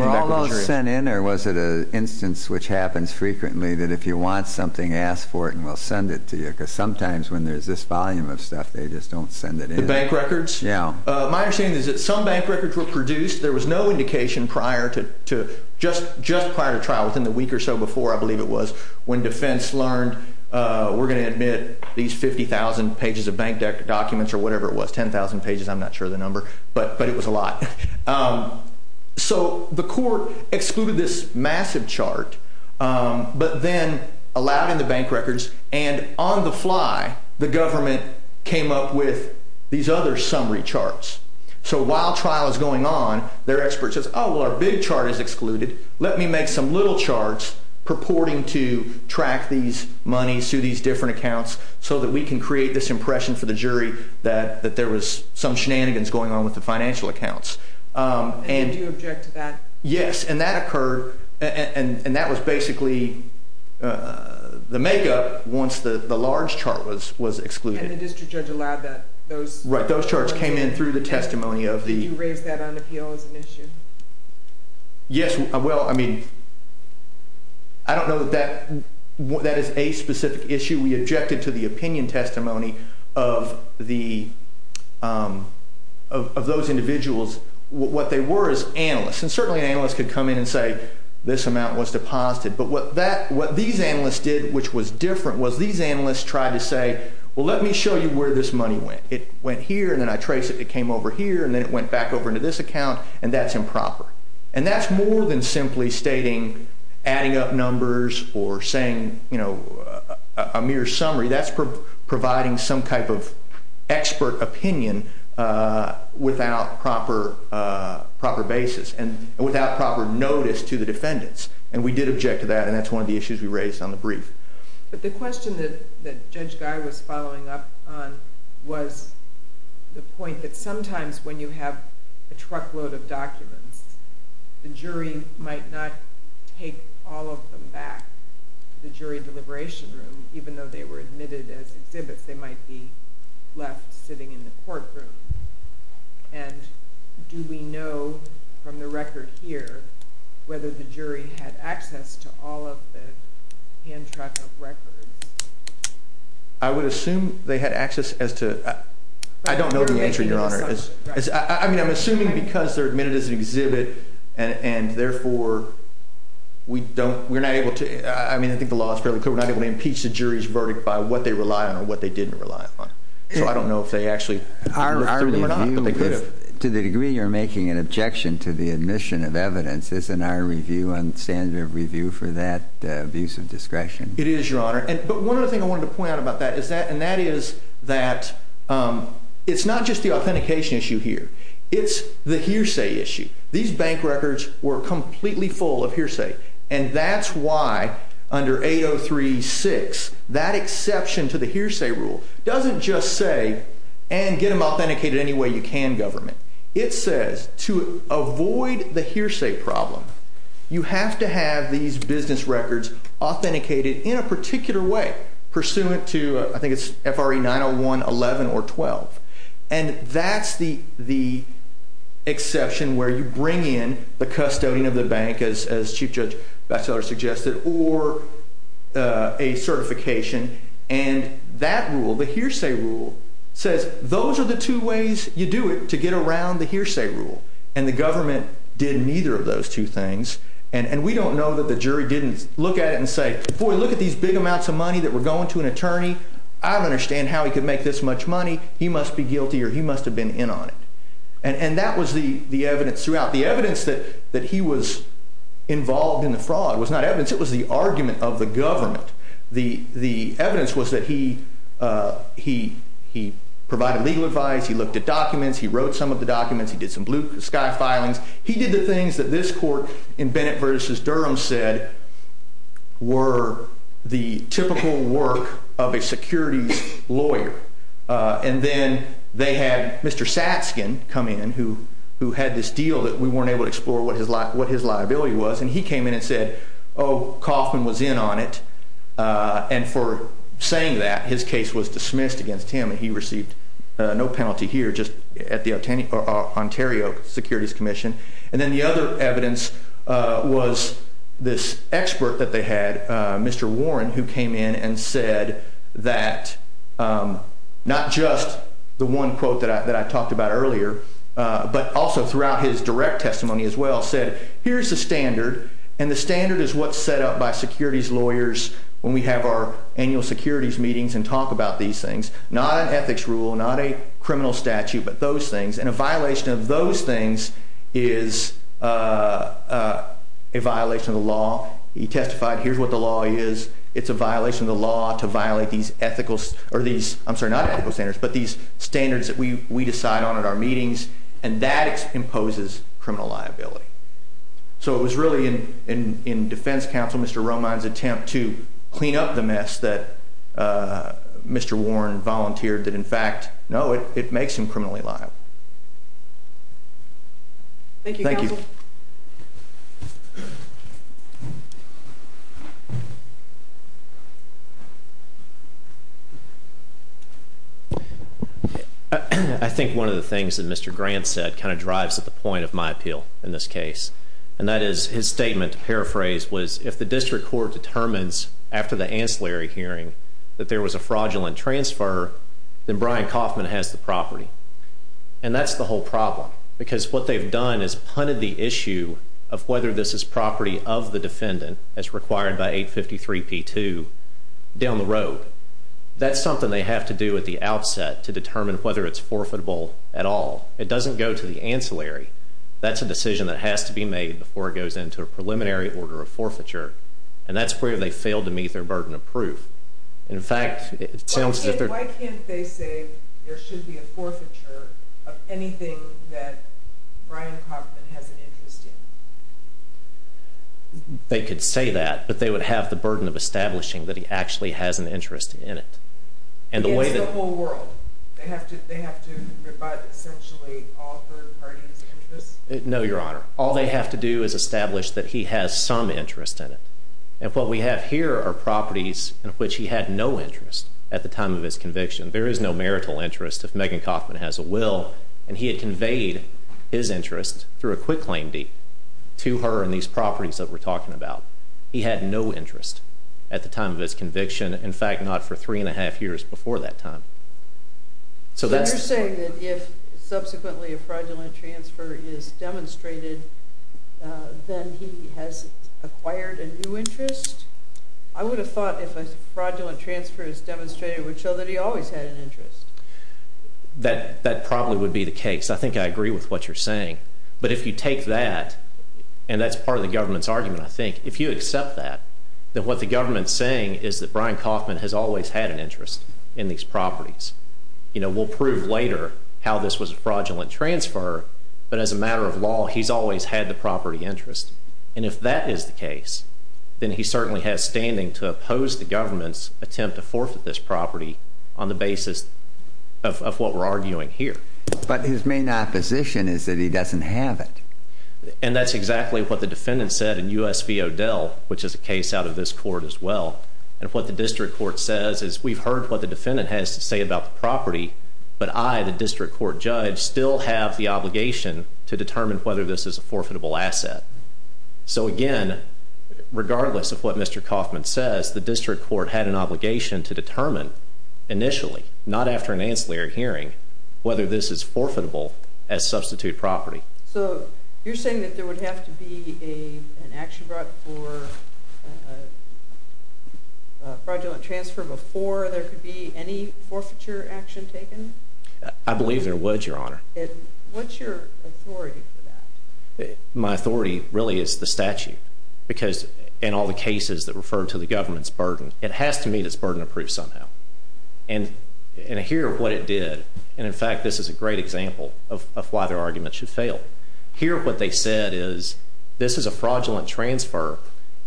all those sent in, or was it an instance which happens frequently that if you want something, ask for it, and we'll send it to you? Because sometimes when there's this volume of stuff, they just don't send it in. The bank records? Yeah. My opinion is that some bank records were produced. There was no indication just prior to trial, within the week or so before, I believe it was, when defense learned, we're going to admit these 50,000 pages of bank documents or whatever it was, 10,000 pages, I'm not sure of the number, but it was a lot. So the court excluded this massive chart, but then allowed in the bank records, and on the fly, the government came up with these other summary charts. So while trial is going on, their expert says, oh, well, our big chart is excluded. Let me make some little charts purporting to track these monies through these different accounts so that we can create this impression for the jury that there was some shenanigans going on with the financial accounts. And you object to that? Yes, and that occurred, and that was basically the makeup once the large chart was excluded. And the district judge allowed that? Right, those charts came in through the testimony of the... You raised that on appeal as an issue? Yes, well, I mean, I don't know that that is a specific issue. We objected to the opinion testimony of those individuals. What they were is analysts, and certainly analysts could come in and say, this amount was deposited. But what these analysts did, which was different, was these analysts tried to say, well, let me show you where this money went. It went here, and then I traced it, it came over here, and then it went back over into this account, and that's improper. And that's more than simply stating adding up numbers or saying a mere summary. That's providing some type of expert opinion without proper basis and without proper notice to the defendants. And we did object to that, and that's one of the issues we raised on the brief. But the question that Judge Guy was following up on was the point that sometimes when you have a truckload of documents, the jury might not take all of them back to the jury deliberation room, even though they were admitted as exhibits. They might be left sitting in the courtroom. And do we know from the record here whether the jury had access to all of the hand-trapped records? I would assume they had access as to – I don't know the answer, Your Honor. I mean, I'm assuming because they're admitted as an exhibit, and therefore, we're not able to – I mean, I think the law is fairly clear. We're not able to impeach the jury's verdict by what they rely on and what they didn't rely on. So I don't know if they actually – To the degree you're making an objection to the admission of evidence, isn't our review and standard of review for that abuse of discretion? It is, Your Honor. But one other thing I wanted to point out about that is that – and that is that it's not just the authentication issue here. It's the hearsay issue. These bank records were completely full of hearsay. And that's why under 803.6, that exception to the hearsay rule doesn't just say, and get them authenticated any way you can, government. It says to avoid the hearsay problem, you have to have these business records authenticated in a particular way, pursuant to, I think it's FRA 901.11 or 12. And that's the exception where you bring in the custodian of the bank, as Chief Judge Batchelor suggested, or a certification, and that rule, the hearsay rule, says those are the two ways you do it, to get around the hearsay rule. And the government did neither of those two things. And we don't know that the jury didn't look at it and say, boy, look at these big amounts of money that were going to an attorney. I don't understand how he could make this much money. He must be guilty or he must have been in on it. And that was the evidence throughout. The evidence that he was involved in the fraud was not evidence. It was the argument of the government. The evidence was that he provided legal advice. He looked at documents. He wrote some of the documents. He did some blue sky filings. He did the things that this court in Bennett v. Durham said were the typical work of a securities lawyer. And then they had Mr. Saskin come in, who had this deal that we weren't able to explore what his liability was, and he came in and said, oh, Coffman was in on it. And for saying that, his case was dismissed against him. And he received no penalty here, just at the Ontario Securities Commission. And then the other evidence was this expert that they had, Mr. Warren, who came in and said that not just the one quote that I talked about earlier, but also throughout his direct testimony as well, said, here's the standard, and the standard is what's set up by securities lawyers when we have our annual securities meetings and talk about these things, not an ethics rule, not a criminal statute, but those things. And a violation of those things is a violation of the law. He testified, here's what the law is. It's a violation of the law to violate these standards that we decide on at our meetings, and that imposes criminal liability. So it was really in defense counsel Mr. Roman's attempt to clean up the mess that Mr. Warren volunteered that in fact, no, it makes him criminally liable. Thank you. Thank you. I think one of the things that Mr. Grant said kind of drives to the point of my appeal in this case, and that is his statement, to paraphrase, was if the district court determines after the ancillary hearing that there was a fraudulent transfer, then Brian Kauffman has the property. And that's the whole problem. Because what they've done is punted the issue of whether this is property of the defendant as required by 853 P2 down the road. That's something they have to do at the outset to determine whether it's forfeitable at all. It doesn't go to the ancillary. That's a decision that has to be made before it goes into a preliminary order of forfeiture, and that's where they failed to meet their burden of proof. Why can't they say there should be a forfeiture of anything that Brian Kauffman has an interest in? They could say that, but they would have the burden of establishing that he actually has an interest in it. In the whole world. They have to revise essentially all third parties' interests? No, Your Honor. All they have to do is establish that he has some interest in it. And what we have here are properties of which he had no interest at the time of his conviction. There is no marital interest if Megan Kauffman has a will, and he had conveyed his interest through a quick claim deed to her in these properties that we're talking about. He had no interest at the time of his conviction. In fact, not for three and a half years before that time. So you're saying that if subsequently a fraudulent transfer is demonstrated, then he has acquired a new interest? I would have thought if a fraudulent transfer is demonstrated, it would show that he always had an interest. That probably would be the case. I think I agree with what you're saying. But if you take that, and that's part of the government's argument, I think, if you accept that, then what the government's saying is that Brian Kauffman has always had an interest in these properties. We'll prove later how this was a fraudulent transfer, but as a matter of law, he's always had the property interest. And if that is the case, then he certainly has standing to oppose the government's attempt to forfeit this property on the basis of what we're arguing here. But his main opposition is that he doesn't have it. And that's exactly what the defendant said in U.S. v. O'Dell, which is a case out of this court as well. And what the district court says is we've heard what the defendant has to say about the property, but I, the district court judge, still have the obligation to determine whether this is a forfeitable asset. So again, regardless of what Mr. Kauffman says, the district court had an obligation to determine initially, not after an ancillary hearing, whether this is forfeitable as substitute property. So you're saying that there would have to be an action brought for fraudulent transfer before there could be any forfeiture action taken? I believe there was, Your Honor. And what's your authority for that? My authority really is the statute, because in all the cases that refer to the government's burden, it has to meet its burden of proof somehow. And here what it did, and in fact this is a great example of why their argument should fail. Here what they said is, this is a fraudulent transfer,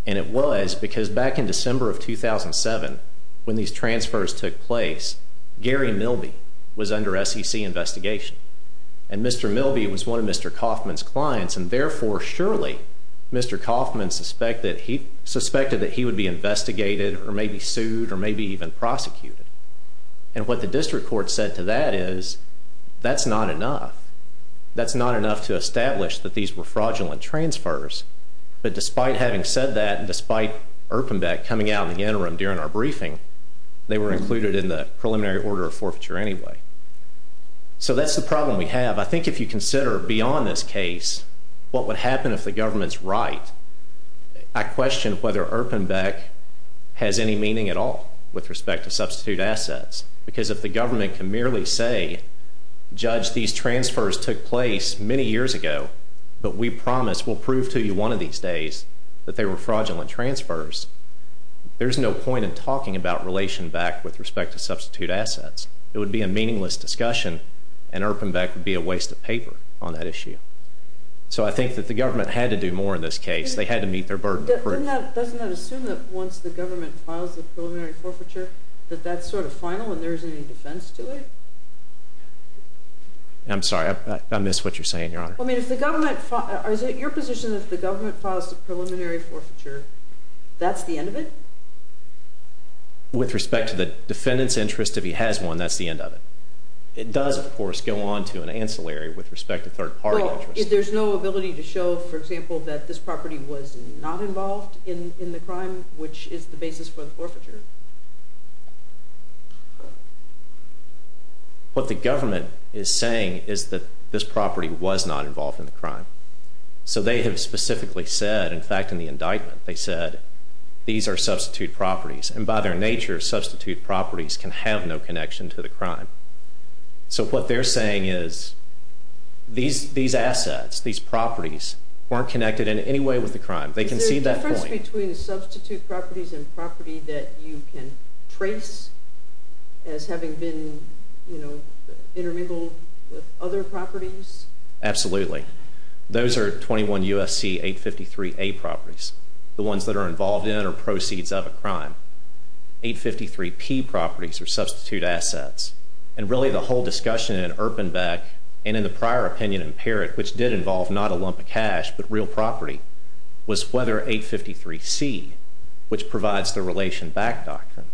and it was because back in December of 2007, when these transfers took place, Gary Milby was under SEC investigation. And Mr. Milby was one of Mr. Kauffman's clients, and therefore surely Mr. Kauffman suspected that he would be investigated or maybe sued or maybe even prosecuted. And what the district court said to that is, that's not enough. That's not enough to establish that these were fraudulent transfers. But despite having said that, and despite Erpenbeck coming out in the interim during our briefing, they were included in the preliminary order of forfeiture anyway. So that's the problem we have. I think if you consider beyond this case, what would happen if the government's right, I question whether Erpenbeck has any meaning at all with respect to substitute assets. Because if the government can merely say, judge these transfers took place many years ago, but we promise we'll prove to you one of these days that they were fraudulent transfers, there's no point in talking about relation back with respect to substitute assets. It would be a meaningless discussion, and Erpenbeck would be a waste of paper on that issue. So I think that the government had to do more in this case. They had to meet their burden of proof. Doesn't that assume that once the government files the preliminary forfeiture, that that's sort of final and there isn't any defense to it? I'm sorry, I missed what you're saying, Your Honor. I mean, is it your position that if the government files the preliminary forfeiture, that's the end of it? With respect to the defendant's interest, if he has one, that's the end of it. It does, of course, go on to an ancillary with respect to third parties. Well, if there's no ability to show, for example, that this property was not involved in the crime, which is the basis for the forfeiture. What the government is saying is that this property was not involved in the crime. So they have specifically said, in fact, in the indictment, they said, these are substitute properties. And by their nature, substitute properties can have no connection to the crime. So what they're saying is, these assets, these properties, weren't connected in any way with the crime. They can see that point. Is there a difference between the substitute properties and property that you can trace as having been, you know, intermingled with other properties? Absolutely. Those are 21 U.S.C. 853A properties. The ones that are involved in or proceeds of a crime. 853P properties are substitute assets. And really, the whole discussion in Erpenbeck and in the prior opinion in Parrott, which did involve not a lump of cash but real property, was whether 853C, which provides the relation back doctrine,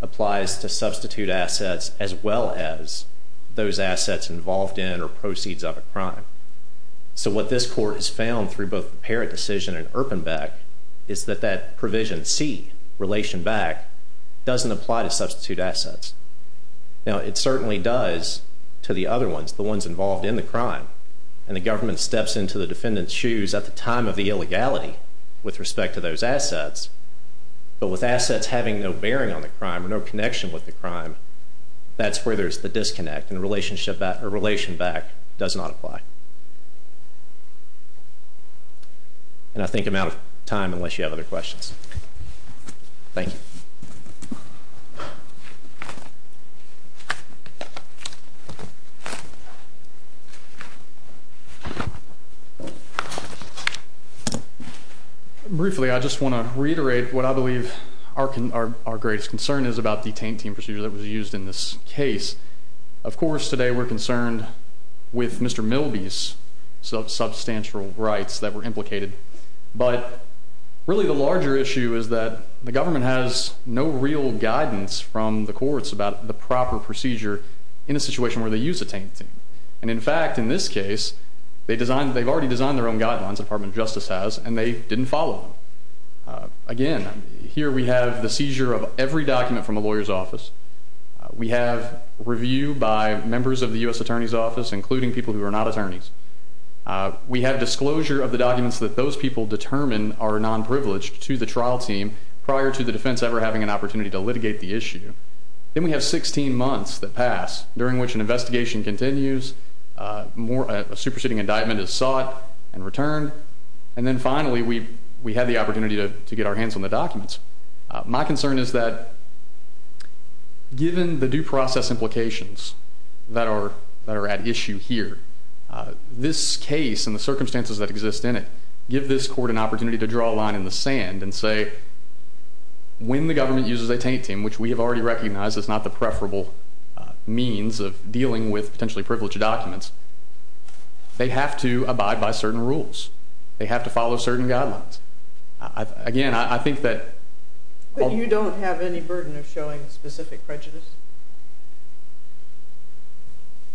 applies to substitute assets as well as those assets involved in or proceeds of a crime. So what this court has found through both Parrott decision and Erpenbeck is that that provision C, relation back, doesn't apply to substitute assets. Now, it certainly does to the other ones, the ones involved in the crime. And the government steps into the defendant's shoes at the time of the illegality with respect to those assets. But with assets having no bearing on the crime, no connection with the crime, that's where there's the disconnect. And the relation back does not apply. And I think I'm out of time unless you have other questions. Thank you. Thank you. Briefly, I just want to reiterate what I believe our greatest concern is about the tank team procedure that was used in this case. Of course, today we're concerned with Mr. Milby's substantial rights that were implicated. But really the larger issue is that the government has no real guidance from the courts about the proper procedure in a situation where they use a tank team. And in fact, in this case, they've already designed their own guidelines, Department of Justice has, and they didn't follow them. Again, here we have the seizure of every document from a lawyer's office. We have review by members of the U.S. Attorney's Office, including people who are not attorneys. We have disclosure of the documents that those people determine are non-privileged to the trial team prior to the defense ever having an opportunity to litigate the issue. Then we have 16 months that pass, during which an investigation continues, a superseding indictment is sought and returned. And then finally, we have the opportunity to get our hands on the documents. My concern is that given the due process implications that are at issue here, this case and the circumstances that exist in it give this court an opportunity to draw a line in the sand and say when the government uses a tank team, which we have already recognized is not the preferable means of dealing with potentially privileged documents, they have to abide by certain rules. They have to follow certain guidelines. Again, I think that... But you don't have any burden of showing specific prejudice?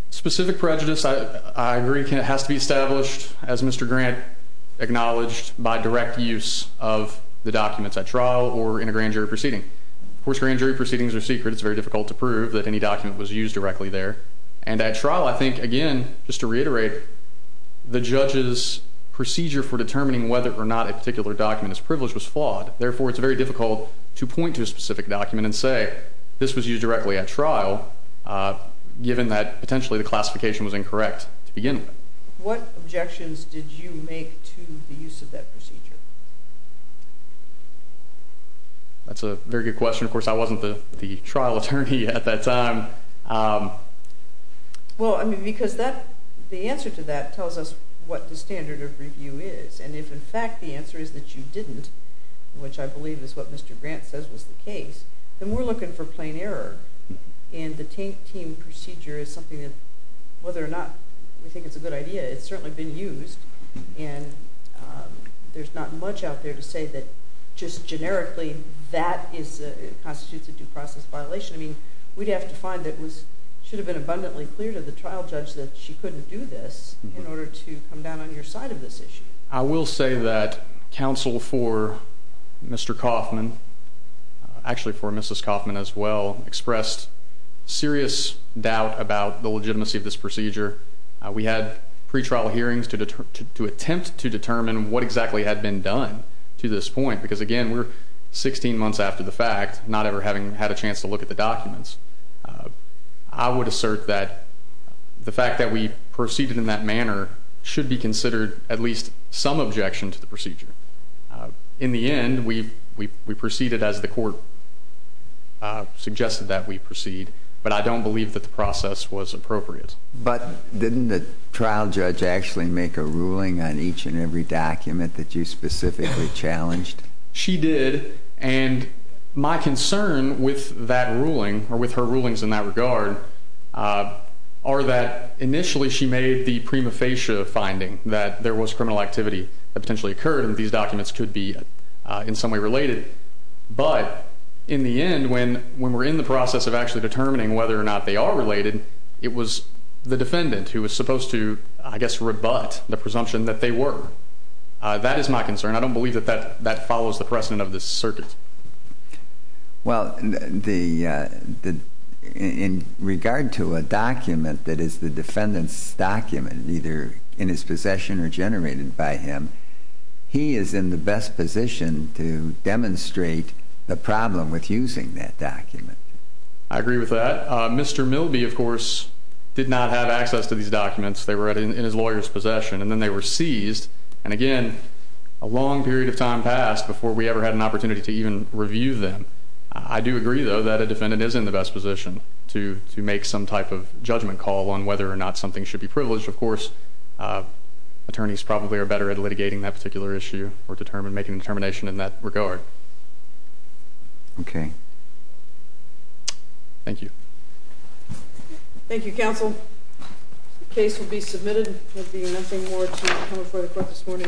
Specific prejudice, I agree, has to be established, as Mr. Grant acknowledged, by direct use of the documents at trial or in a grand jury proceeding. Of course, grand jury proceedings are secret. It's very difficult to prove that any document was used directly there. And at trial, I think, again, just to reiterate, the judge's procedure for determining whether or not a particular document is privileged was flawed. Therefore, it's very difficult to point to a specific document and say, this was used directly at trial, given that potentially the classification was incorrect to begin with. What objections did you make to the use of that procedure? That's a very good question. Of course, I wasn't the trial attorney at that time. Well, I mean, because the answer to that tells us what the standard of review is. And if, in fact, the answer is that you didn't, which I believe is what Mr. Grant says was the case, then we're looking for plain error. And the Taint Team procedure is something that, whether or not we think it's a good idea, it's certainly been used, and there's not much out there to say that just generically that constitutes a due process violation. I mean, we'd have to find that it should have been abundantly clear to the trial judge that she couldn't do this in order to come down on your side of this issue. I will say that counsel for Mr. Coffman, actually for Mrs. Coffman as well, expressed serious doubt about the legitimacy of this procedure. We had pretrial hearings to attempt to determine what exactly had been done to this point, because, again, we're 16 months after the fact, not ever having had a chance to look at the documents. I would assert that the fact that we proceeded in that manner should be considered at least some objection to the procedure. In the end, we proceeded as the court suggested that we proceed, but I don't believe that the process was appropriate. But didn't the trial judge actually make a ruling on each and every document that you specifically challenged? She did, and my concern with that ruling or with her rulings in that regard are that initially she made the prima facie finding that there was criminal activity that potentially occurred, and these documents could be in some way related. But in the end, when we're in the process of actually determining whether or not they are related, it was the defendant who was supposed to, I guess, rebut the presumption that they were. That is my concern. I don't believe that that follows the precedent of this circuit. Well, in regard to a document that is the defendant's document, either in his possession or generated by him, he is in the best position to demonstrate the problem with using that document. I agree with that. Mr. Milby, of course, did not have access to these documents. They were in his lawyer's possession, and then they were seized. And again, a long period of time passed before we ever had an opportunity to even review them. I do agree, though, that a defendant is in the best position to make some type of judgment call on whether or not something should be privileged. Of course, attorneys probably are better at litigating that particular issue or making a determination in that regard. Okay. Thank you. Thank you, counsel. The case will be submitted. There will be an interim warrant to come before the court this morning. You may adjourn.